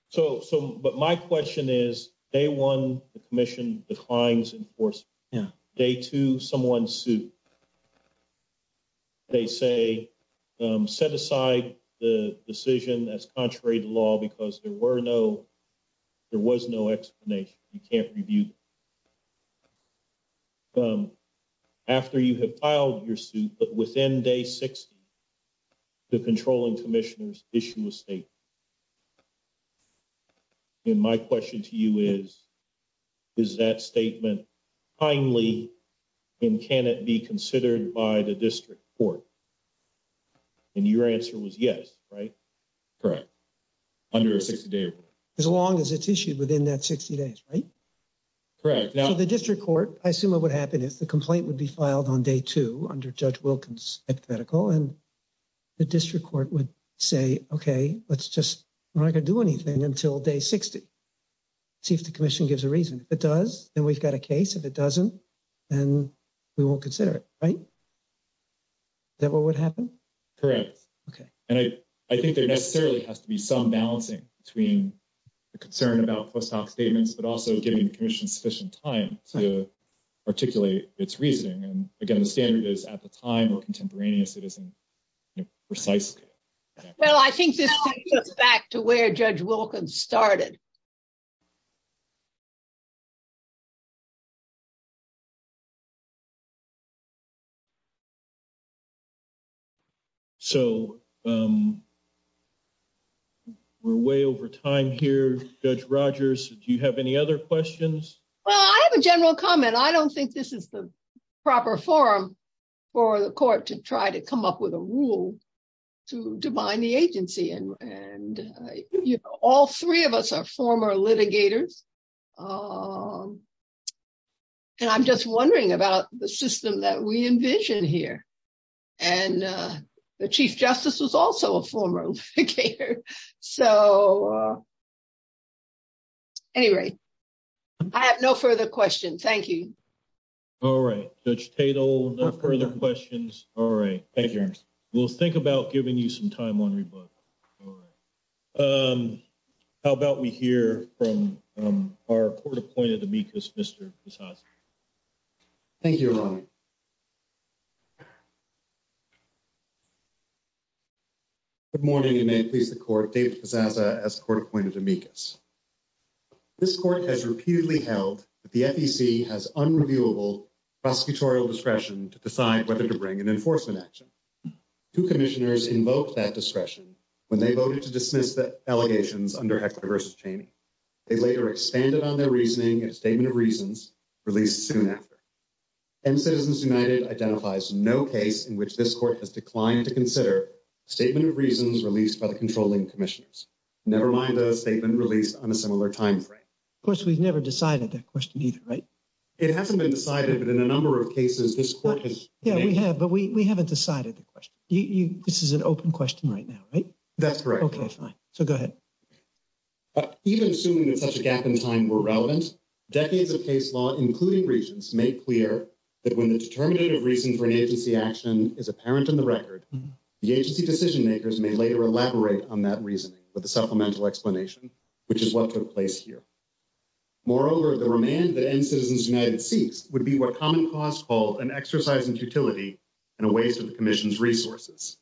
So, but my question is, day one, the commission declines enforcement. Yeah. Day two, someone sued. They say, set aside the decision as contrary to law because there were no, there was no explanation. You can't review. After you have filed your suit, but within day 60, the controlling commissioners issue a statement. And my question to you is, is that statement timely and can it be considered by the district court? And your answer was yes, right? Correct. Under a 60-day rule. As long as it's issued within that 60 days, right? Correct. Now, the district court, I assume what would happen is the complaint would be filed on day two under Judge Wilkins' hypothetical, and the district court would say, okay, let's just, we're not going to do anything until day 60. See if the commission gives a reason. If it does, then we've got a case. If it doesn't, then we won't consider it, right? Is that what would happen? Correct. Okay. And I think there necessarily has to be some balancing between the concern about post hoc statements, but also giving the commission sufficient time to articulate its reasoning. And, again, the standard is at the time or contemporaneous, it isn't precise. Well, I think this takes us back to where Judge Wilkins started. So, we're way over time here. Judge Rogers, do you have any other questions? Well, I have a general comment. I don't think this is the proper forum for the court to try to come up with a rule to bind the agency. And all three of us are frustrated. We're former litigators. And I'm just wondering about the system that we envision here. And the Chief Justice is also a former litigator. So, at any rate, I have no further questions. Thank you. All right. Judge Tatel, no further questions. All right. We'll think about giving you some time on your book. All right. How about we hear from our court-appointed amicus, Mr. Posada? Thank you, Ron. Good morning, and may it please the court, David Posada as court-appointed amicus. This court has repeatedly held that the FEC has unreviewable prosecutorial discretion to decide whether to bring an enforcement action. Two commissioners invoked that discretion when they voted to dismiss the allegations under equity versus change. They later expanded on their reasoning in a statement of reasons released soon after. And Citizens United identifies no case in which this court has declined to consider a statement of reasons released by the controlling commissioners, never mind a statement released on a similar timeframe. Of course, we've never decided that question either, right? It hasn't been decided, but in a number of cases, this court has. Yeah, we have, but we haven't decided the question. This is an open question right now, right? That's correct. Okay, fine. So go ahead. Even assuming that such a gap in time were relevant, decades of case law, including reasons, make clear that when a determinative reason for agency action is apparent in the record, the agency decision-makers may later elaborate on that reasoning with a supplemental explanation, which is what took place here. Moreover, the remand that ends Citizens United's case would be what Common Cause calls an exercise in futility and a waste of the commission's resources.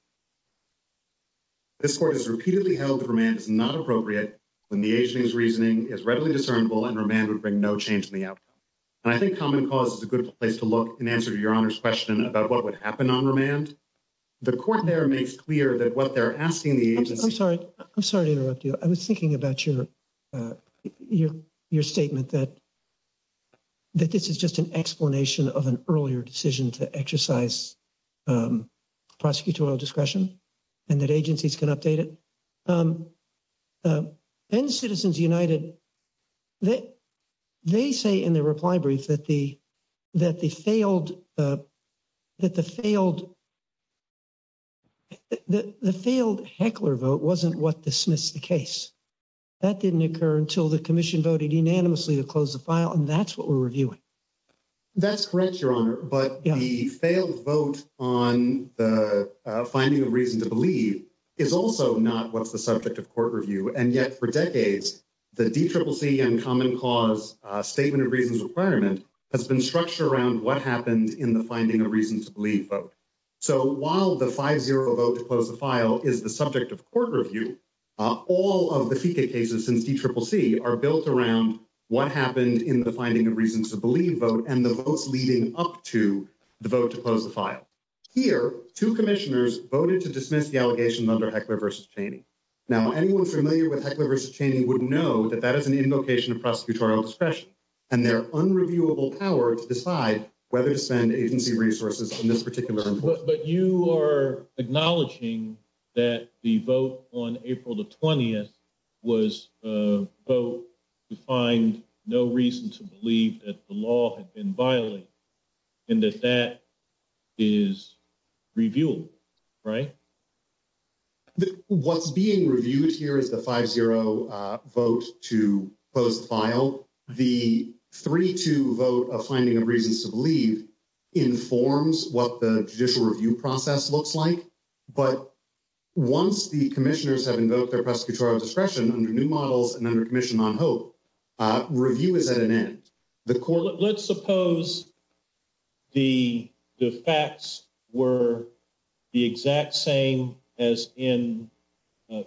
This court has repeatedly held that remand is not appropriate when the agency's reasoning is readily discernible and remand would bring no change in the outcome. And I think Common Cause is a good place to look in answer to your Honor's question about what would happen on remand. The court there makes clear that what they're asking the agency… I'm sorry. I'm sorry to interrupt you. I was thinking about your statement that this is just an explanation of an earlier decision to exercise prosecutorial discretion and that agencies can update it. And Citizens United, they say in their reply brief that the failed Heckler vote wasn't what dismissed the case. That didn't occur until the commission voted unanimously to close the file, and that's what we're reviewing. That's correct, Your Honor, but the failed vote on the finding of reason to believe is also not what's the subject of court review. And yet for decades, the DCCC and Common Cause statement of reasons requirement has been structured around what happened in the finding of reasons to believe vote. So while the 5-0 vote to close the file is the subject of court review, all of the FICA cases in DCCC are built around what happened in the finding of reasons to believe vote and the votes leading up to the vote to close the file. Here, two commissioners voted to dismiss the allegation under Heckler v. Chaney. Now, anyone familiar with Heckler v. Chaney would know that that is an invocation of prosecutorial discretion and their unreviewable power to decide whether to send agency resources in this particular instance. But you are acknowledging that the vote on April the 20th was a vote to find no reason to believe that the law had been violated and that that is reviewed, right? What's being reviewed here is the 5-0 vote to close the file. The 3-2 vote of finding a reason to believe informs what the judicial review process looks like. But once the commissioners have invoked their prosecutorial discretion under new models and under Commission on Hope, review is at an end. Let's suppose the facts were the exact same as in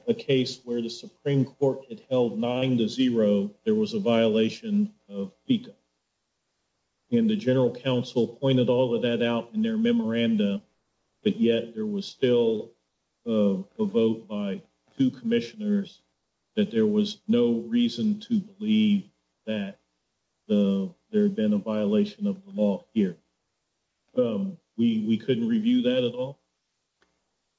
a case where the Supreme Court had held 9-0 there was a violation of FICA. And the general counsel pointed all of that out in their memorandum, but yet there was still a vote by two commissioners that there was no reason to believe that there had been a violation of the law here. We couldn't review that at all?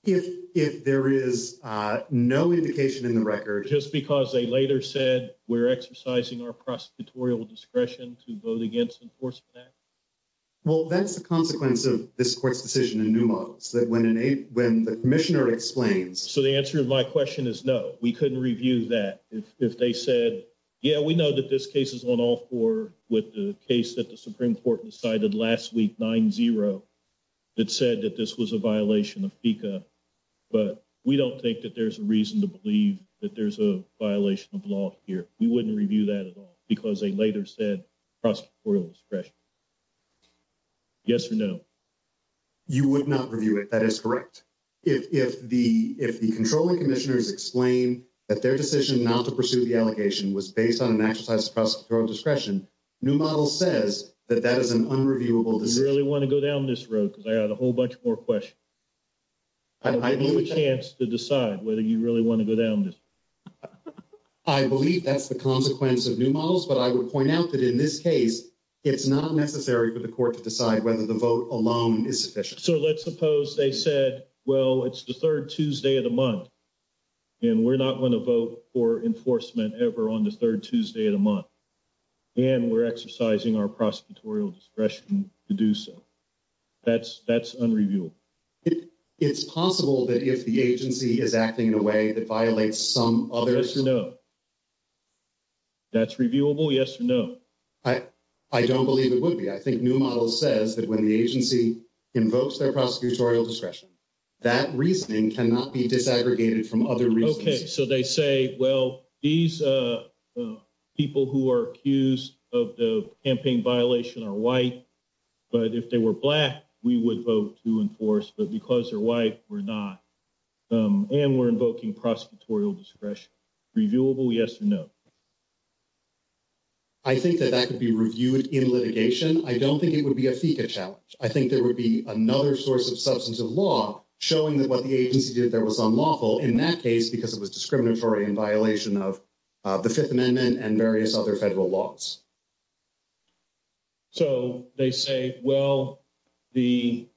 If there is no indication in the record... Just because they later said we're exercising our prosecutorial discretion to vote against enforcement action? Well, that's the consequence of this court's decision in new models. When the commissioner explains... So the answer to my question is no. We couldn't review that if they said, yeah, we know that this case is on all four with the case that the Supreme Court decided last week, 9-0, that said that this was a violation of FICA. But we don't think that there's a reason to believe that there's a violation of law here. We wouldn't review that at all because they later said prosecutorial discretion. Yes or no? You would not review it. That is correct. If the controlling commissioners explain that their decision not to pursue the allegation was based on an exercise of prosecutorial discretion, new model says that that is an unreviewable... Do you really want to go down this road because I have a whole bunch more questions? I believe... You have a chance to decide whether you really want to go down this road. I believe that's the consequence of new models, but I would point out that in this case, it's not necessary for the court to decide whether the vote alone is sufficient. So let's suppose they said, well, it's the third Tuesday of the month, and we're not going to vote for enforcement ever on the third Tuesday of the month, and we're exercising our prosecutorial discretion to do so. That's unreviewable. It's possible that if the agency is acting in a way that violates some other... Yes or no? That's reviewable? Yes or no? I don't believe it would be. I think new model says that when the agency invokes their prosecutorial discretion, that reasoning cannot be disaggregated from other reasoning. Okay, so they say, well, these people who are accused of the campaign violation are white, but if they were black, we would vote to enforce, but because they're white, we're not, and we're invoking prosecutorial discretion. Reviewable? Yes or no? I think that that could be reviewed in litigation. I don't think it would be a FECA challenge. I think there would be another source of substance of law showing that what the agency did there was unlawful in that case because it was discriminatory in violation of the Fifth Amendment and various other federal laws. So they say, well, the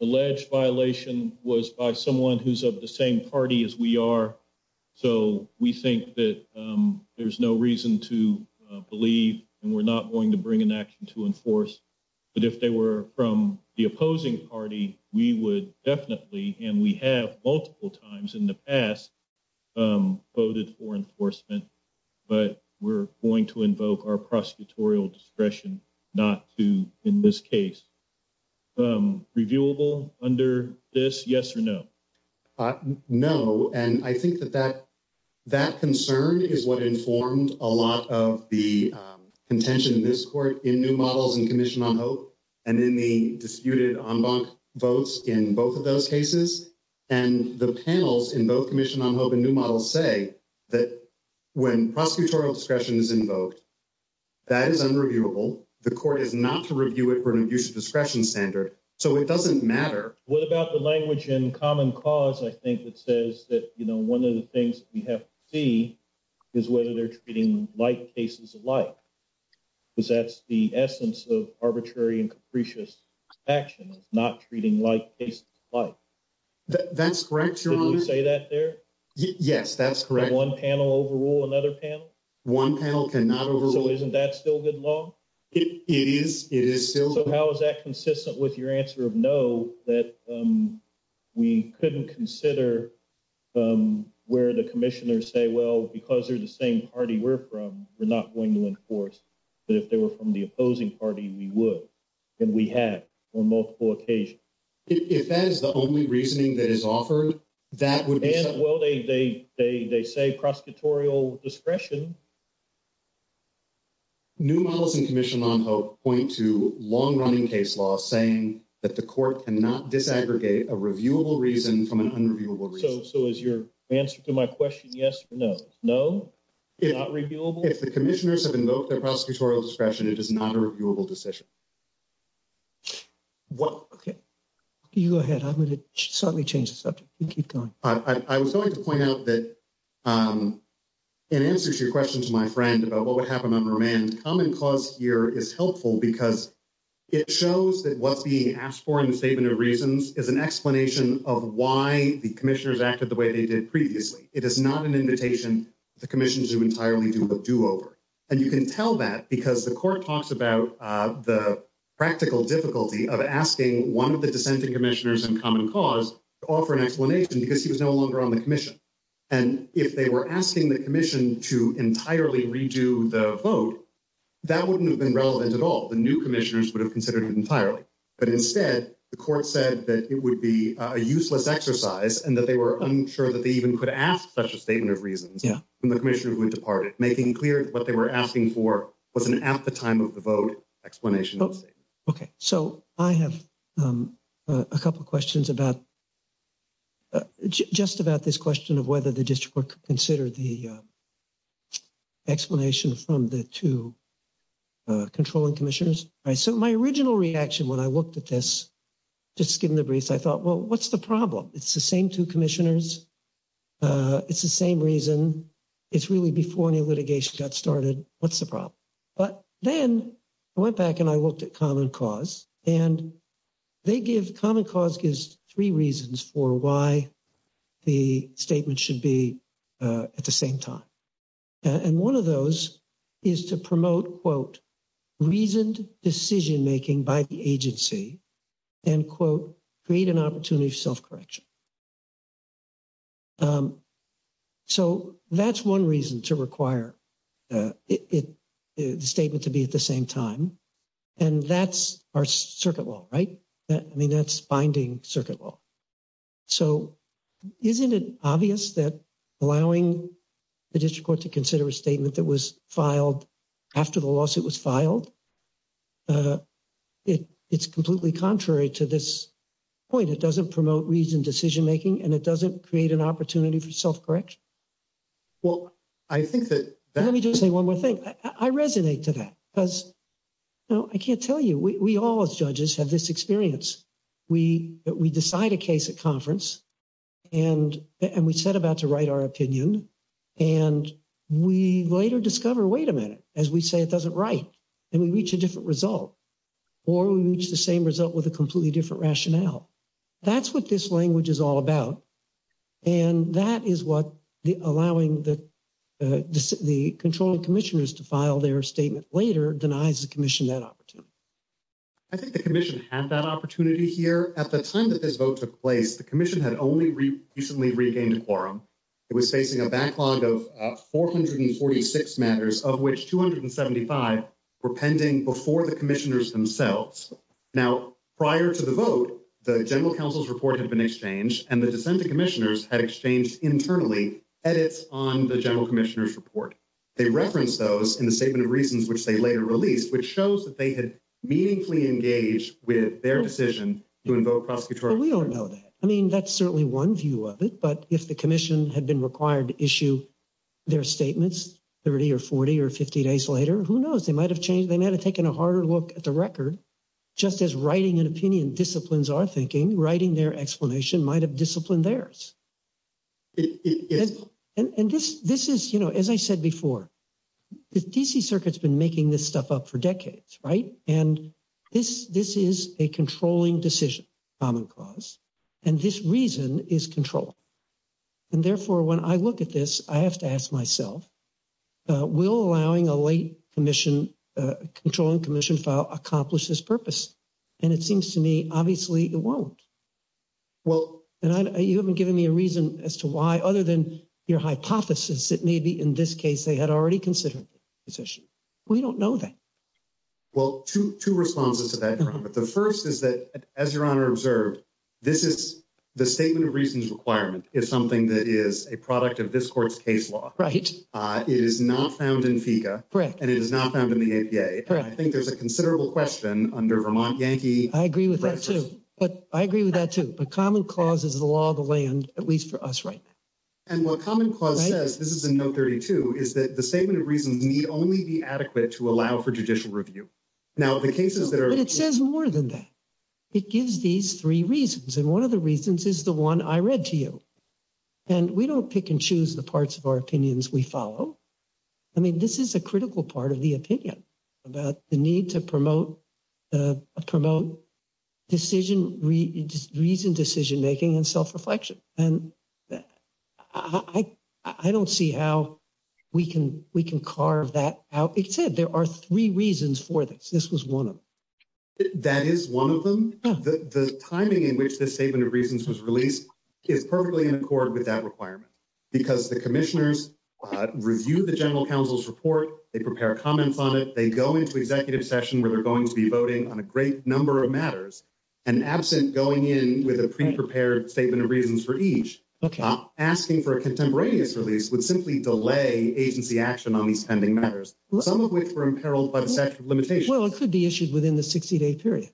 alleged violation was by someone who's of the same party as we are, so we think that there's no reason to believe, and we're not going to bring an action to enforce, that if they were from the opposing party, we would definitely, and we have multiple times in the past, voted for enforcement. But we're going to invoke our prosecutorial discretion not to, in this case. Reviewable under this? Yes or no? No, and I think that that concern is what informs a lot of the contention in this court in new models and Commission on Hope and in the disputed en banc votes in both of those cases. And the panels in both Commission on Hope and New Models say that when prosecutorial discretion is invoked, that is unreviewable. The court is not to review it for an abuse of discretion standard, so it doesn't matter. What about the language in Common Cause? I think it says that, you know, one of the things you have to see is whether they're treating like cases of life. Because that's the essence of arbitrary and capricious action, is not treating like cases of life. That's correct. Did you say that there? Yes, that's correct. Does one panel overrule another panel? One panel cannot overrule. So isn't that still good law? It is. It is still good law. So how is that consistent with your answer of no, that we couldn't consider where the commissioners say, well, because they're the same party we're from, they're not going to enforce. But if they were from the opposing party, we would, and we have on multiple occasions. If that is the only reasoning that is offered, that would be. Well, they say prosecutorial discretion. New models in commission law point to long-running case law saying that the court cannot disaggregate a reviewable reason from an unreviewable reason. So is your answer to my question yes or no? No? Not reviewable? If the commissioners have invoked a prosecutorial discretion, it is not a reviewable decision. Okay. You go ahead. I'm going to slightly change the subject and keep going. I was going to point out that in answer to your question to my friend about what would happen under a man's common cause here is helpful because it shows that what's being asked for in the statement of reasons is an explanation of why the commissioners acted the way they did previously. It is not an invitation. And you can tell that because the court talks about the practical difficulty of asking one of the dissenting commissioners in common cause to offer an explanation because he was no longer on the commission. And if they were asking the commission to entirely redo the vote, that wouldn't have been relevant at all. The new commissioners would have considered it entirely. But instead, the court said that it would be a useless exercise and that they were unsure that they even could ask such a statement of reasons when the commissioners went to party, making clear what they were asking for was an at-the-time-of-the-vote explanation. Okay. So I have a couple of questions about just about this question of whether the district court could consider the explanation from the two controlling commissioners. So my original reaction when I looked at this, just to give you a brief, I thought, well, what's the problem? It's the same two commissioners. It's the same reason. It's really before any litigation got started. What's the problem? But then I went back and I looked at common cause, and they give – common cause gives three reasons for why the statement should be at the same time. And one of those is to promote, quote, reasoned decision-making by the agency and, quote, create an opportunity for self-correction. So that's one reason to require the statement to be at the same time. And that's our circuit law, right? I mean, that's binding circuit law. So isn't it obvious that allowing the district court to consider a statement that was filed after the lawsuit was filed, it's completely contrary to this point. It doesn't promote reasoned decision-making, and it doesn't create an opportunity for self-correction. Well, I think that – Let me just say one more thing. I resonate to that because, you know, I can't tell you. We all as judges have this experience. We decide a case at conference, and we set about to write our opinion, and we later discover, wait a minute, as we say it doesn't write, and we reach a different result. Or we reach the same result with a completely different rationale. That's what this language is all about. And that is what allowing the controlling commissioners to file their statement later denies the commission that opportunity. I think the commission had that opportunity here. At the time that this vote took place, the commission had only recently regained quorum. It was facing a backlog of 446 matters, of which 275 were pending before the commissioners themselves. Now, prior to the vote, the general counsel's report had been exchanged, and the dissenting commissioners had exchanged internally edits on the general commissioner's report. They referenced those in the statement of reasons, which they later released, which shows that they had meaningfully engaged with their decision to invoke prosecutorial – Well, we all know that. I mean, that's certainly one view of it. But if the commission had been required to issue their statements 30 or 40 or 50 days later, who knows? They might have changed. They might have taken a harder look at the record. Just as writing an opinion disciplines our thinking, writing their explanation might have disciplined theirs. And this is, you know, as I said before, the D.C. Circuit's been making this stuff up for decades, right? And this is a controlling decision, common cause, and this reason is control. And therefore, when I look at this, I have to ask myself, will allowing a late commission – controlling commission file accomplish this purpose? And it seems to me, obviously, it won't. Well, you haven't given me a reason as to why, other than your hypothesis, it may be in this case they had already considered this issue. We don't know that. Well, two responses to that, Your Honor. The first is that, as Your Honor observed, this is – the statement of reasons requirement is something that is a product of this court's case law. Right. It is not found in FICA. Correct. And it is not found in the APA. Correct. I think there's a considerable question under Vermont Yankee – I agree with that, too. But I agree with that, too. The common cause is the law of the land, at least for us, right? And what common cause says – this is in No. 32 – is that the statement of reasons may only be adequate to allow for judicial review. Now, the cases that are – But it says more than that. It gives these three reasons, and one of the reasons is the one I read to you. And we don't pick and choose the parts of our opinions we follow. I mean, this is a critical part of the opinion about the need to promote decision – reasoned decision-making and self-reflection. And I don't see how we can carve that out. It said there are three reasons for this. This was one of them. That is one of them? The timing in which this statement of reasons was released is perfectly in accord with that requirement. Because the commissioners review the general counsel's report. They prepare comments on it. They go into executive session where they're going to be voting on a great number of matters. And absent going in with a pre-prepared statement of reasons for each, asking for a contemporaneous release would simply delay agency action on these pending matters, some of which were imperiled by the statute of limitations. Well, it could be issued within the 60-day period.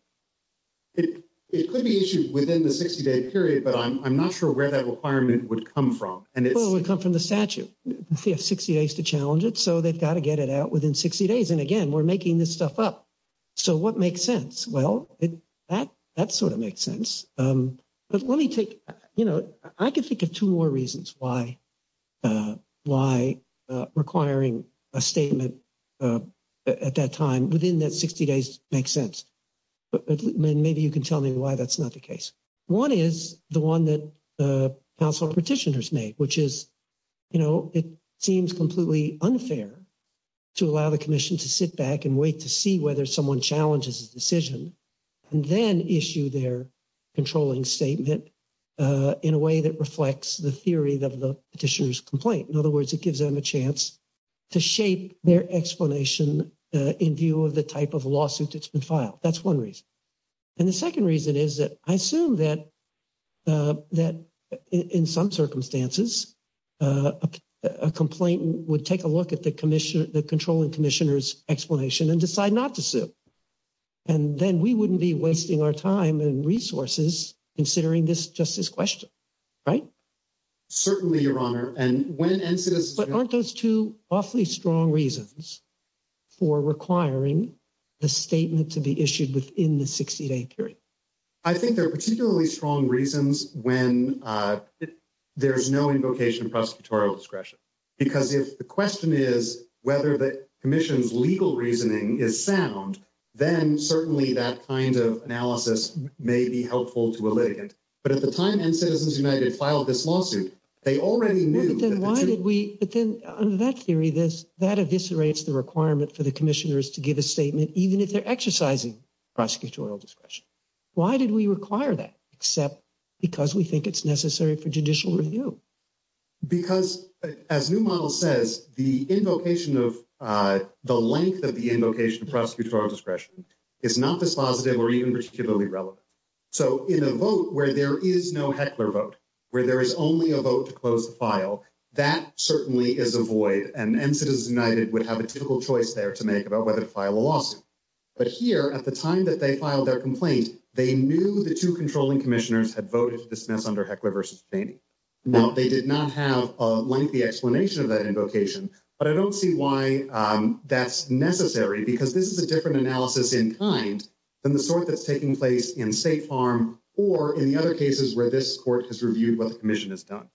It could be issued within the 60-day period, but I'm not sure where that requirement would come from. Well, it would come from the statute. We have 60 days to challenge it, so they've got to get it out within 60 days. And again, we're making this stuff up. So what makes sense? Well, that sort of makes sense. But let me take – you know, I can think of two more reasons why requiring a statement at that time within that 60 days makes sense. Maybe you can tell me why that's not the case. One is the one that consular petitioners make, which is, you know, it seems completely unfair to allow the commission to sit back and wait to see whether someone challenges a decision and then issue their controlling statement in a way that reflects the theory that the petitioner's complaint. In other words, it gives them a chance to shape their explanation in view of the type of lawsuit that's been filed. That's one reason. And the second reason is that I assume that in some circumstances a complainant would take a look at the controlling commissioner's explanation and decide not to sit. And then we wouldn't be wasting our time and resources considering just this question, right? Certainly, Your Honor. But aren't those two awfully strong reasons for requiring the statement to be issued within the 60-day period? I think they're particularly strong reasons when there's no invocation of prosecutorial discretion. Because if the question is whether the commission's legal reasoning is sound, then certainly that kind of analysis may be helpful to elicit it. But at the time N-Citizens United filed this lawsuit, they already knew— But then why did we—but then under that theory, that eviscerates the requirement for the commissioners to give a statement even if they're exercising prosecutorial discretion. Why did we require that except because we think it's necessary for judicial review? Because, as your model says, the invocation of—the length of the invocation of prosecutorial discretion is not dispositive or even particularly relevant. So in a vote where there is no Heckler vote, where there is only a vote to close the file, that certainly is a void. And N-Citizens United would have a typical choice there to make about whether to file a lawsuit. But here, at the time that they filed their complaint, they knew the two controlling commissioners had voted to dismiss under Heckler v. Staney. Now, they did not have a lengthy explanation of that invocation. But I don't see why that's necessary because this is a different analysis in kind than the sort that's taking place in State Farm or in the other cases where this court has reviewed what the commission has done.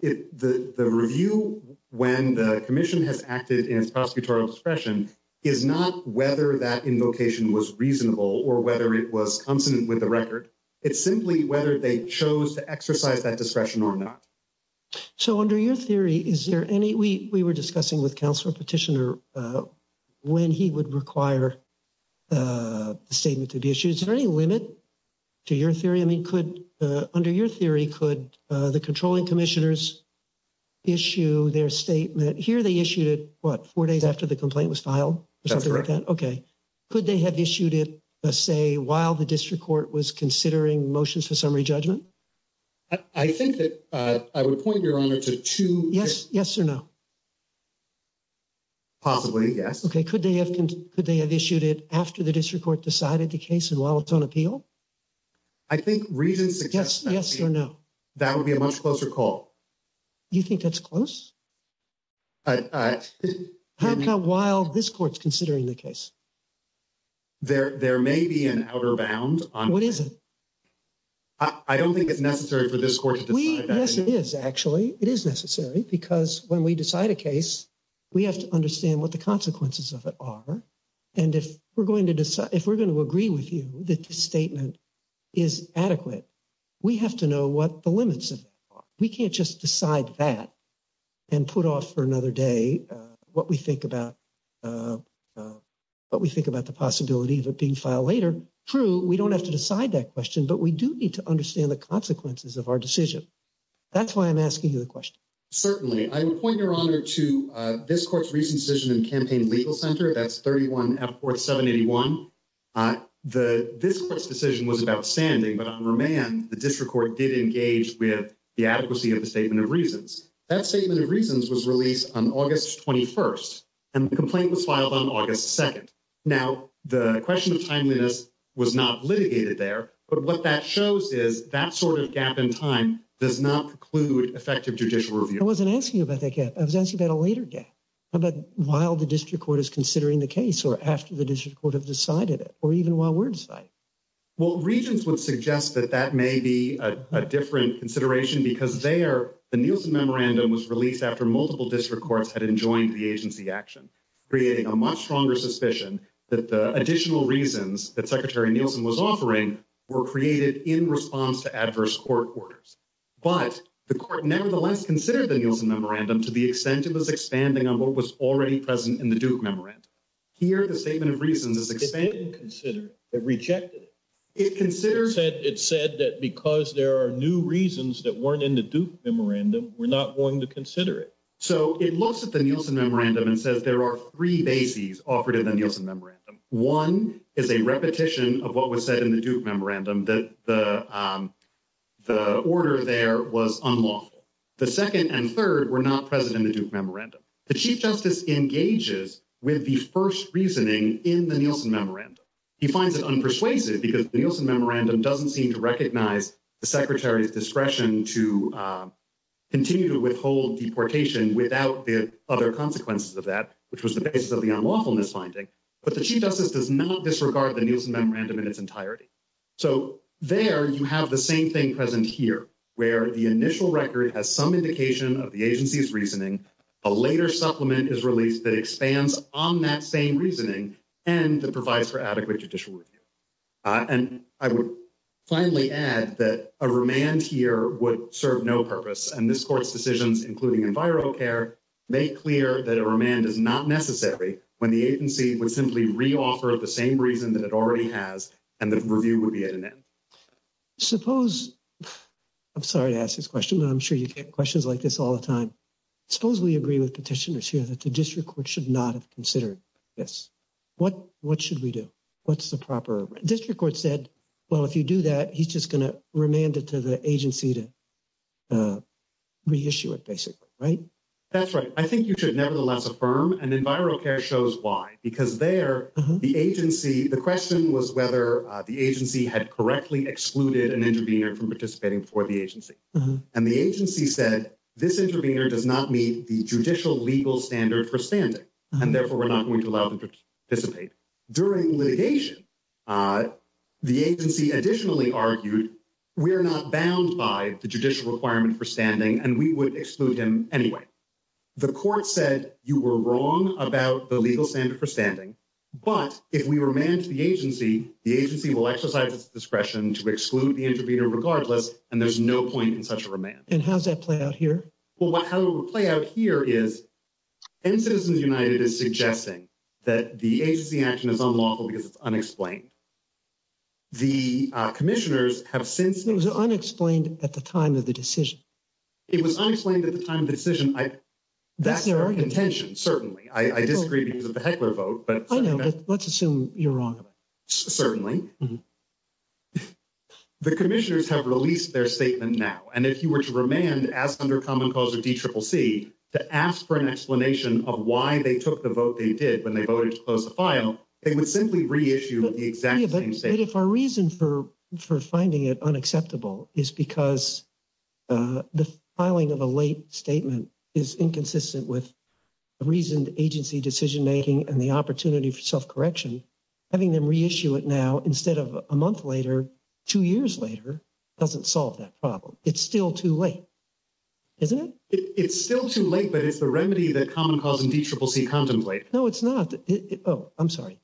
The review when the commission has acted in its prosecutorial discretion is not whether that invocation was reasonable or whether it was consonant with the record. It's simply whether they chose to exercise that discretion or not. So under your theory, is there any—we were discussing with Council Petitioner when he would require a statement to be issued. Is there any limit to your theory? I mean, could—under your theory, could the controlling commissioners issue their statement—here they issued it, what, four days after the complaint was filed? That's correct. Okay. Could they have issued it, say, while the district court was considering motions to summary judgment? I think that—I would point, Your Honor, to two— Yes, yes or no? Possibly, yes. Okay, could they have issued it after the district court decided the case and while it's on appeal? I think reason suggests— Yes, yes or no? That would be a much closer call. You think that's close? Perhaps not while this court's considering the case. There may be an outer bound on— What is it? I don't think it's necessary for this court to decide that. Yes, it is, actually. It is necessary because when we decide a case, we have to understand what the consequences of it are. And if we're going to agree with you that the statement is adequate, we have to know what the limits of it are. We can't just decide that and put off for another day what we think about the possibility of it being filed later. True, we don't have to decide that question, but we do need to understand the consequences of our decision. That's why I'm asking you the question. Certainly. I would point, Your Honor, to this court's recent decision in Campaign Legal Center. That's 31-F-4781. This court's decision was outstanding, but on remand, the district court did engage with the adequacy of the statement of reasons. That statement of reasons was released on August 21st, and the complaint was filed on August 2nd. Now, the question of timeliness was not litigated there, but what that shows is that sort of gap in time does not preclude effective judicial review. I wasn't asking about that gap. I was asking about a later gap, about while the district court is considering the case or after the district court has decided it or even while we're deciding it. Well, reasons would suggest that that may be a different consideration because there, the Nielsen Memorandum was released after multiple district courts had enjoined the agency action, creating a much stronger suspicion that the additional reasons that Secretary Nielsen was offering were created in response to adverse court orders. But the court nevertheless considered the Nielsen Memorandum to be extensive as expanding on what was already present in the Duke Memorandum. Here, the statement of reasons is expanded. It didn't consider it. It rejected it. It said that because there are new reasons that weren't in the Duke Memorandum, we're not going to consider it. So it looks at the Nielsen Memorandum and says there are three bases offered in the Nielsen Memorandum. One is a repetition of what was said in the Duke Memorandum, that the order there was unlawful. The second and third were not present in the Duke Memorandum. The Chief Justice engages with the first reasoning in the Nielsen Memorandum. He finds it unpersuasive because the Nielsen Memorandum doesn't seem to recognize the Secretary's discretion to continue to withhold deportation without the other consequences of that, which was the basis of the unlawfulness finding. But the Chief Justice does not disregard the Nielsen Memorandum in its entirety. So there you have the same thing present here, where the initial record has some indication of the agency's reasoning, a later supplement is released that expands on that same reasoning, and it provides for adequate judicial review. And I would finally add that a remand here would serve no purpose, and this Court's decisions, including environmental care, make clear that a remand is not necessary when the agency would simply re-offer the same reason that it already has, and the review would be at an end. Suppose, I'm sorry to ask this question, but I'm sure you get questions like this all the time. Suppose we agree with petitioners here that the district court should not have considered this. What should we do? What's the proper? The district court said, well, if you do that, he's just going to remand it to the agency to reissue it, basically, right? That's right. I think you should nevertheless affirm, and environmental care shows why. Because there, the agency, the question was whether the agency had correctly excluded an intervener from participating for the agency. And the agency said, this intervener does not meet the judicial legal standard for standing, and therefore we're not going to allow him to participate. During litigation, the agency additionally argued, we're not bound by the judicial requirement for standing, and we would exclude him anyway. The court said, you were wrong about the legal standard for standing, but if we remand to the agency, the agency will exercise its discretion to exclude the intervener regardless, and there's no point in such a remand. And how does that play out here? Well, how it will play out here is, and Citizens United is suggesting that the agency action is unlawful because it's unexplained. The commissioners have since. It was unexplained at the time of the decision. It was unexplained at the time of the decision. That's their own intention. Certainly. I disagree because of the Heckler vote, but. Let's assume you're wrong. Certainly. The commissioners have released their statement now, and if you were to remand as under common cause of DCCC to ask for an explanation of why they took the vote they did when they voted to close the file, they would simply reissue the exact same statement. If our reason for finding it unacceptable is because the filing of a late statement is inconsistent with reasoned agency decision-making and the opportunity for self-correction, having them reissue it now instead of a month later, two years later, doesn't solve that problem. It's still too late. Isn't it? It's still too late, but it's the remedy that common cause and DCCC contemplates. No, it's not. Oh, I'm sorry.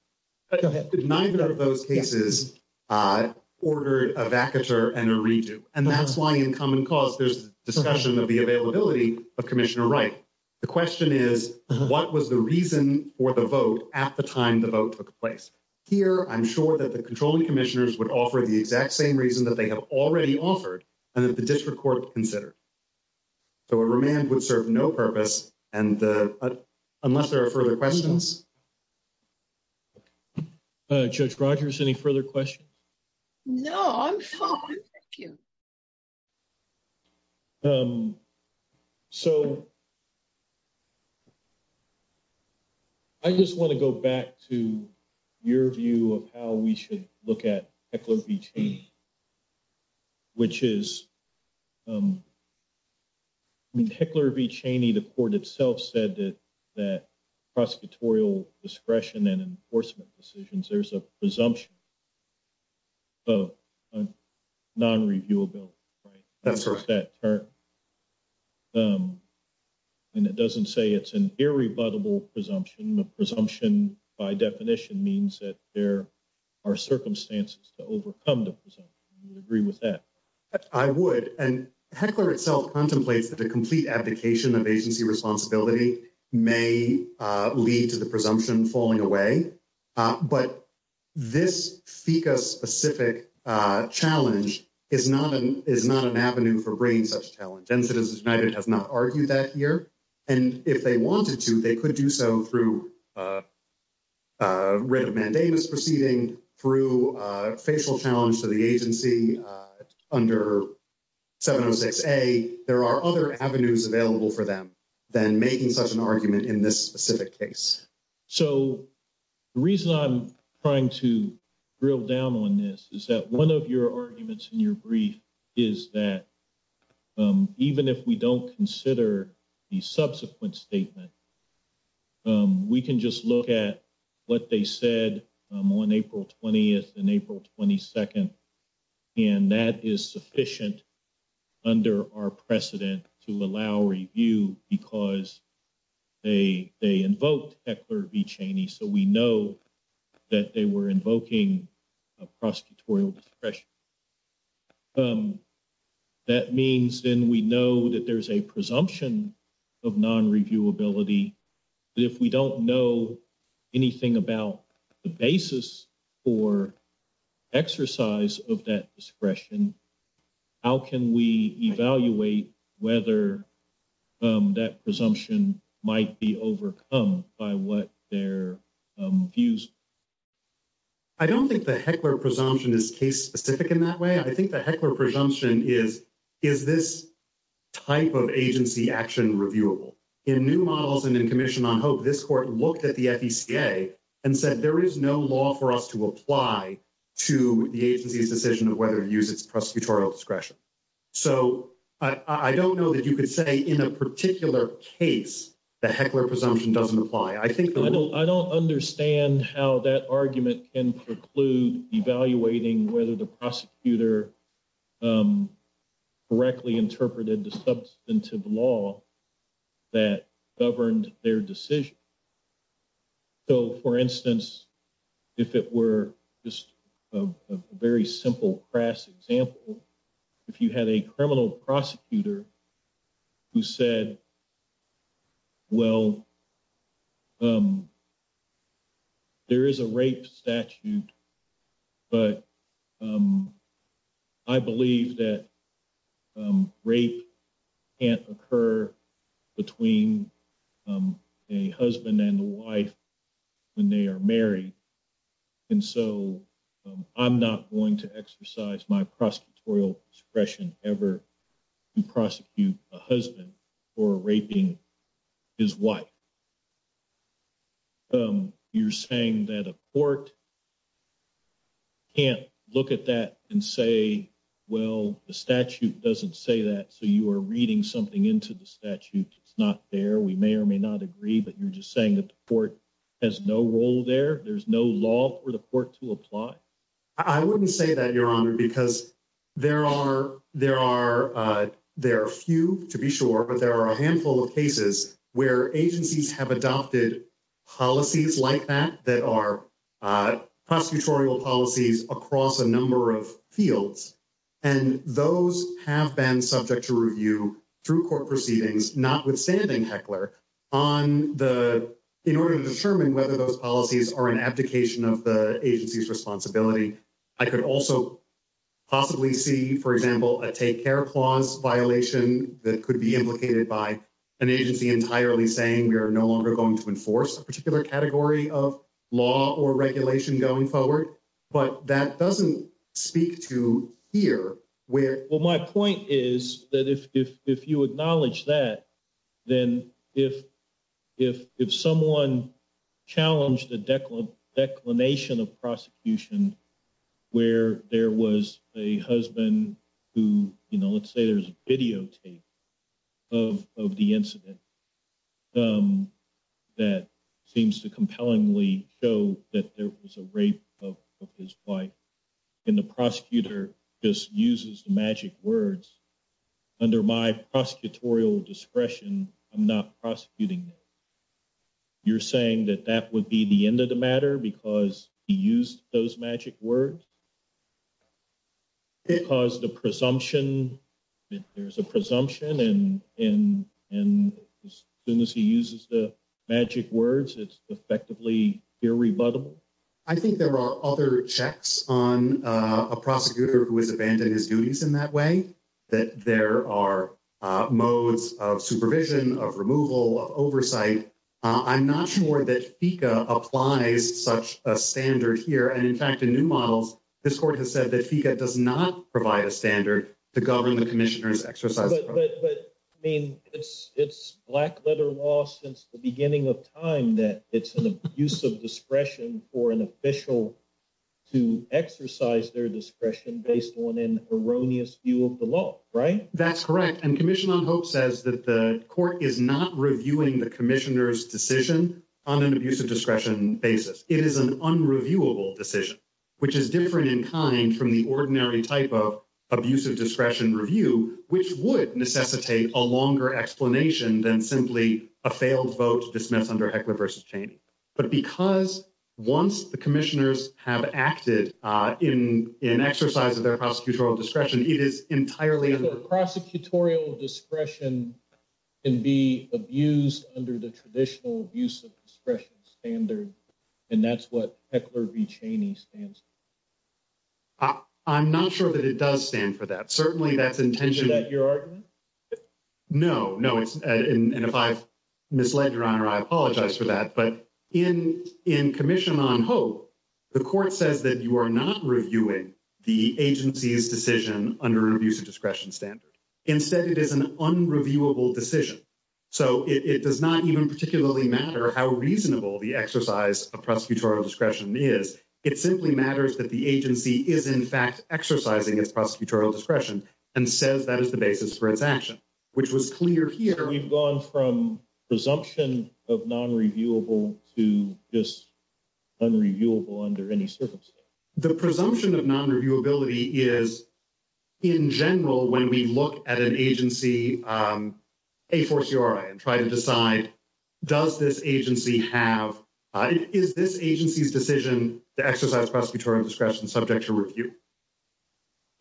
Go ahead. Neither of those cases ordered a vacatur and a redo, and that's why in common cause there's discussion of the availability of Commissioner Wright. The question is, what was the reason for the vote at the time the vote took place? Here, I'm sure that the controlling commissioners would offer the exact same reason that they have already offered and that the district court would consider. So a remand would serve no purpose, unless there are further questions. Judge Rogers, any further questions? No, I'm fine. Thank you. So I just want to go back to your view of how we should look at Heckler v. Cheney, which is when Heckler v. Cheney, the court itself said that that prosecutorial discretion and enforcement decisions, there's a presumption of non-reviewable. That's correct. And it doesn't say it's an irrebuttable presumption. The presumption, by definition, means that there are circumstances to overcome the presumption. Do you agree with that? I would. Heckler itself contemplates that the complete abdication of agency responsibility may lead to the presumption falling away. But this FECA-specific challenge is not an avenue for bringing such challenges. And if they wanted to, they could do so through writ of mandamus proceeding, through facial challenge to the agency under 706-A. There are other avenues available for them than making such an argument in this specific case. So the reason I'm trying to drill down on this is that one of your arguments in your brief is that even if we don't consider the subsequent statement, we can just look at what they said on April 20th and April 22nd. And that is sufficient under our precedent to allow review because they invoked Heckler v. Cheney, so we know that they were invoking a prosecutorial discretion. That means then we know that there's a presumption of non-reviewability. If we don't know anything about the basis for exercise of that discretion, how can we evaluate whether that presumption might be overcome by what their views? I don't think the Heckler presumption is case-specific in that way. I think the Heckler presumption is, is this type of agency action reviewable? In New Models and in Commission on Hope, this court looked at the FECA and said there is no law for us to apply to the agency's decision of whether to use its prosecutorial discretion. So I don't know that you could say in a particular case the Heckler presumption doesn't apply. I don't understand how that argument can preclude evaluating whether the prosecutor correctly interpreted the substantive law that governed their decision. So, for instance, if it were just a very simple, crass example, if you had a criminal prosecutor who said, well, there is a rape statute, but I believe that rape can't occur between a husband and a wife when they are married. And so I'm not going to exercise my prosecutorial discretion ever to prosecute a husband for raping his wife. You're saying that a court can't look at that and say, well, the statute doesn't say that, so you are reading something into the statute that's not there. We may or may not agree, but you're just saying that the court has no role there. There's no law for the court to apply. I wouldn't say that, Your Honor, because there are few, to be sure, but there are a handful of cases where agencies have adopted policies like that that are prosecutorial policies across a number of fields. And those have been subject to review through court proceedings, notwithstanding Heckler, in order to determine whether those policies are an abdication of the agency's responsibility. I could also possibly see, for example, a take care clause violation that could be implicated by an agency entirely saying we are no longer going to enforce a particular category of law or regulation going forward. But that doesn't speak to here, where – If I could acknowledge that, then if someone challenged the declination of prosecution where there was a husband who – let's say there's videotape of the incident that seems to compellingly show that there was a rape of his wife, and the prosecutor just uses the magic words, under my prosecutorial discretion, I'm not prosecuting that. You're saying that that would be the end of the matter because he used those magic words? Because the presumption – if there's a presumption and as soon as he uses the magic words, it's effectively irrebuttable? I think there are other checks on a prosecutor who has abandoned his duties in that way, that there are modes of supervision, of removal, of oversight. I'm not sure that HECA applies such a standard here. And in fact, in new models, this court has said that HECA does not provide a standard to govern the commissioner's exercise of power. But, I mean, it's black-letter law since the beginning of time that it's an abuse of discretion for an official to exercise their discretion based on an erroneous view of the law, right? That's correct. And Commission on Hope says that the court is not reviewing the commissioner's decision on an abuse of discretion basis. It is an unreviewable decision, which is different in kind from the ordinary type of abuse of discretion review, which would necessitate a longer explanation than simply a failed vote dismissed under HECLA versus Cheney. But because once the commissioners have acted in exercise of their prosecutorial discretion, it is entirely… So, prosecutorial discretion can be abused under the traditional abuse of discretion standard, and that's what HECLA v. Cheney stands for? I'm not sure that it does stand for that. Certainly, that's intention… Is that your argument? No, no. And if I've misled Your Honor, I apologize for that. But in Commission on Hope, the court says that you are not reviewing the agency's decision under an abuse of discretion standard. Instead, it is an unreviewable decision. So, it does not even particularly matter how reasonable the exercise of prosecutorial discretion is. It simply matters that the agency is, in fact, exercising its prosecutorial discretion and says that is the basis for its action, which was clear here. We've gone from presumption of nonreviewable to just unreviewable under any circumstances. The presumption of nonreviewability is, in general, when we look at an agency A4CRI and try to decide, does this agency have—is this agency's decision to exercise prosecutorial discretion subject to review?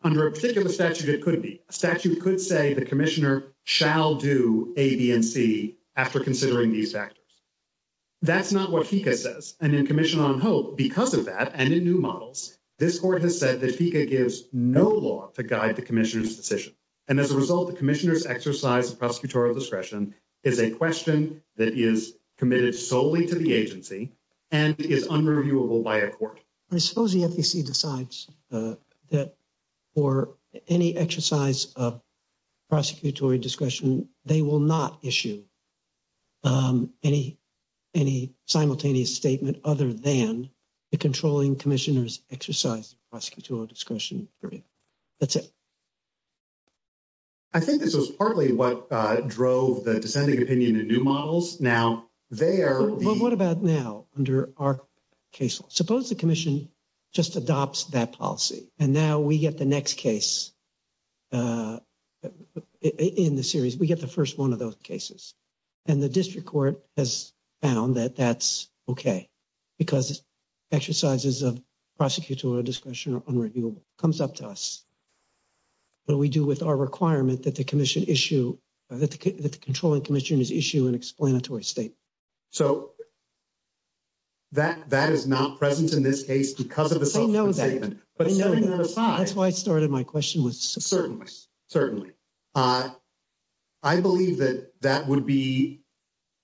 Under a particular statute, it could be. A statute could say the commissioner shall do A, B, and C after considering these factors. That's not what HECA says. And in Commission on Hope, because of that and in new models, this court has said that HECA gives no law to guide the commissioner's decision. And as a result, the commissioner's exercise of prosecutorial discretion is a question that is committed solely to the agency and is unreviewable by a court. I suppose the FEC decides that for any exercise of prosecutorial discretion, they will not issue any simultaneous statement other than the controlling commissioner's exercise of prosecutorial discretion. That's it. I think this was partly what drove the dissenting opinion in the new models. Now, they are— Now, under our case, suppose the commission just adopts that policy, and now we get the next case in the series. We get the first one of those cases. And the district court has found that that's okay because exercises of prosecutorial discretion are unreviewable. It comes up to us. What do we do with our requirement that the commission issue—that the controlling commissioner issue an explanatory statement? So that is not present in this case because of a simultaneous statement. I know that. I know that. That's why I started my question with— Certainly. Certainly. I believe that that would be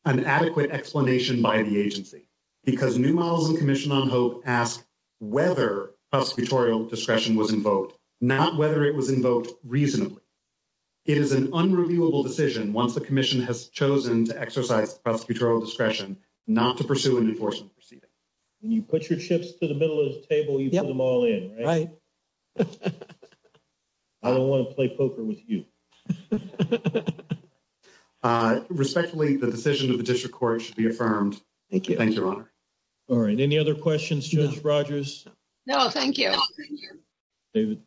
an adequate explanation by the agency because new models in Commission on Hope ask whether prosecutorial discretion was invoked, not whether it was invoked reasonably. It is an unreviewable decision once the commission has chosen to exercise prosecutorial discretion not to pursue an enforcement proceeding. When you put your chips to the middle of the table, you put them all in, right? I don't want to play poker with you. Respectfully, the decision of the district court should be affirmed. Thank you. Thank you, Your Honor. All right. Any other questions, Judge Rogers? No, thank you. David?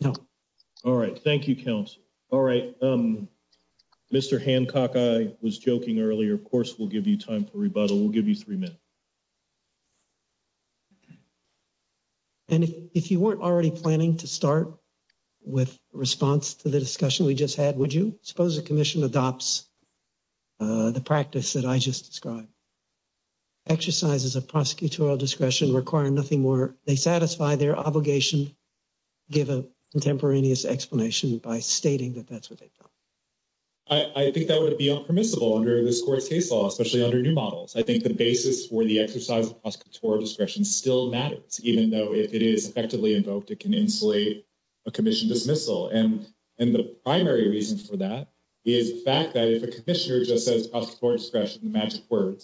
No. All right. Thank you, counsel. All right. Mr. Hancock, I was joking earlier. Of course, we'll give you time for rebuttal. We'll give you three minutes. And if you weren't already planning to start with response to the discussion we just had, would you? I suppose the commission adopts the practice that I just described. Exercises of prosecutorial discretion require nothing more. They satisfy their obligation to give a contemporaneous explanation by stating that that's what they thought. I think that would be impermissible under this court's case law, especially under new models. I think the basis for the exercise of prosecutorial discretion still matters, even though if it is effectively invoked, it can insulate a commission dismissal. And the primary reason for that is the fact that if a commissioner just says prosecutorial discretion is a magic word,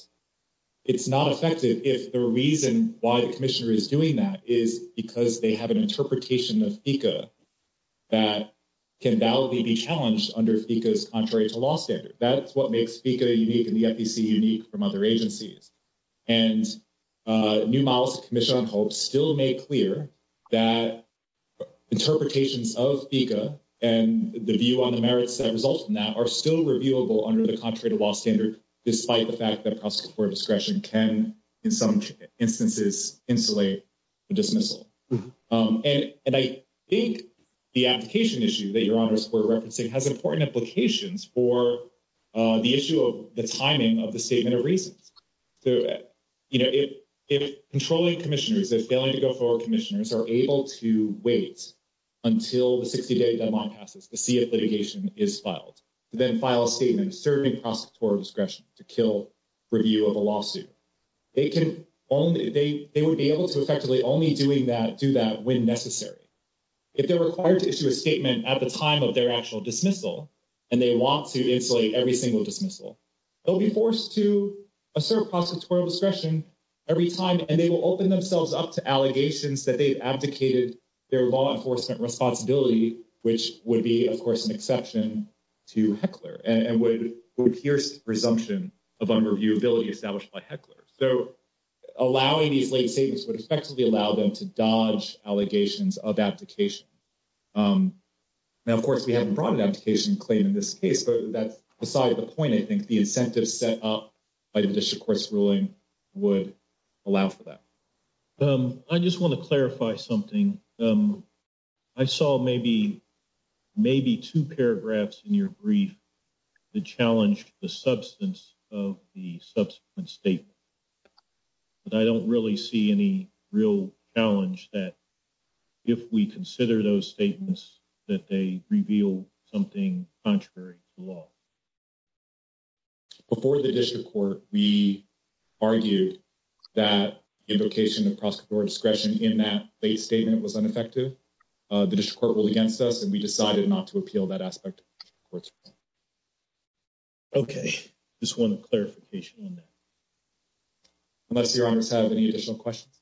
it's not effective. If the reason why the commissioner is doing that is because they have an interpretation of FECA that can validly be challenged under FECA's contrarian law standard. That's what makes FECA unique and the FECA unique from other agencies. And new models of commissioning still make clear that interpretations of FECA and the view on the merits that result from that are still reviewable under the contrarian law standard, despite the fact that prosecutorial discretion can, in some instances, insulate a dismissal. And I think the application issue that Your Honor is referencing has important implications for the issue of the timing of the statement of reasons. You know, if controlling commissioners, if failing to go forward commissioners are able to wait until the 60-day deadline passes to see if litigation is filed, then file a statement serving prosecutorial discretion to kill review of a lawsuit, they would be able to effectively only do that when necessary. If they're required to issue a statement at the time of their actual dismissal and they want to insulate every single dismissal, they'll be forced to assert prosecutorial discretion every time and they will open themselves up to allegations that they've abdicated their law enforcement responsibility, which would be, of course, an exception to Heckler and would pierce the presumption of unreviewability established by Heckler. So allowing these late statements would effectively allow them to dodge allegations of abdication. Now, of course, we haven't brought an abdication claim in this case, but that's beside the point. I think the incentive set up by the Shikors ruling would allow for that. I just want to clarify something. I saw maybe two paragraphs in your brief that challenged the substance of the subsequent statement. But I don't really see any real challenge that if we consider those statements that they reveal something contrary to law. Before the district court, we argued that invocation of prosecutorial discretion in that late statement was ineffective. The district court ruled against us and we decided not to appeal that aspect of the district court's ruling. Okay. Just want a clarification on that. Unless Your Honor has any additional questions?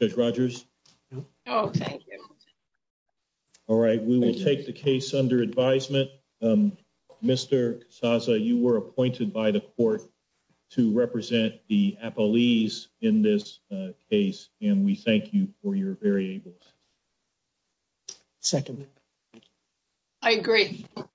Judge Rogers? No. Oh, thank you. All right. We will take the case under advisement. Mr. Casasa, you were appointed by the court to represent the appellees in this case and we thank you for your very able act. Second. I agree. Thank you.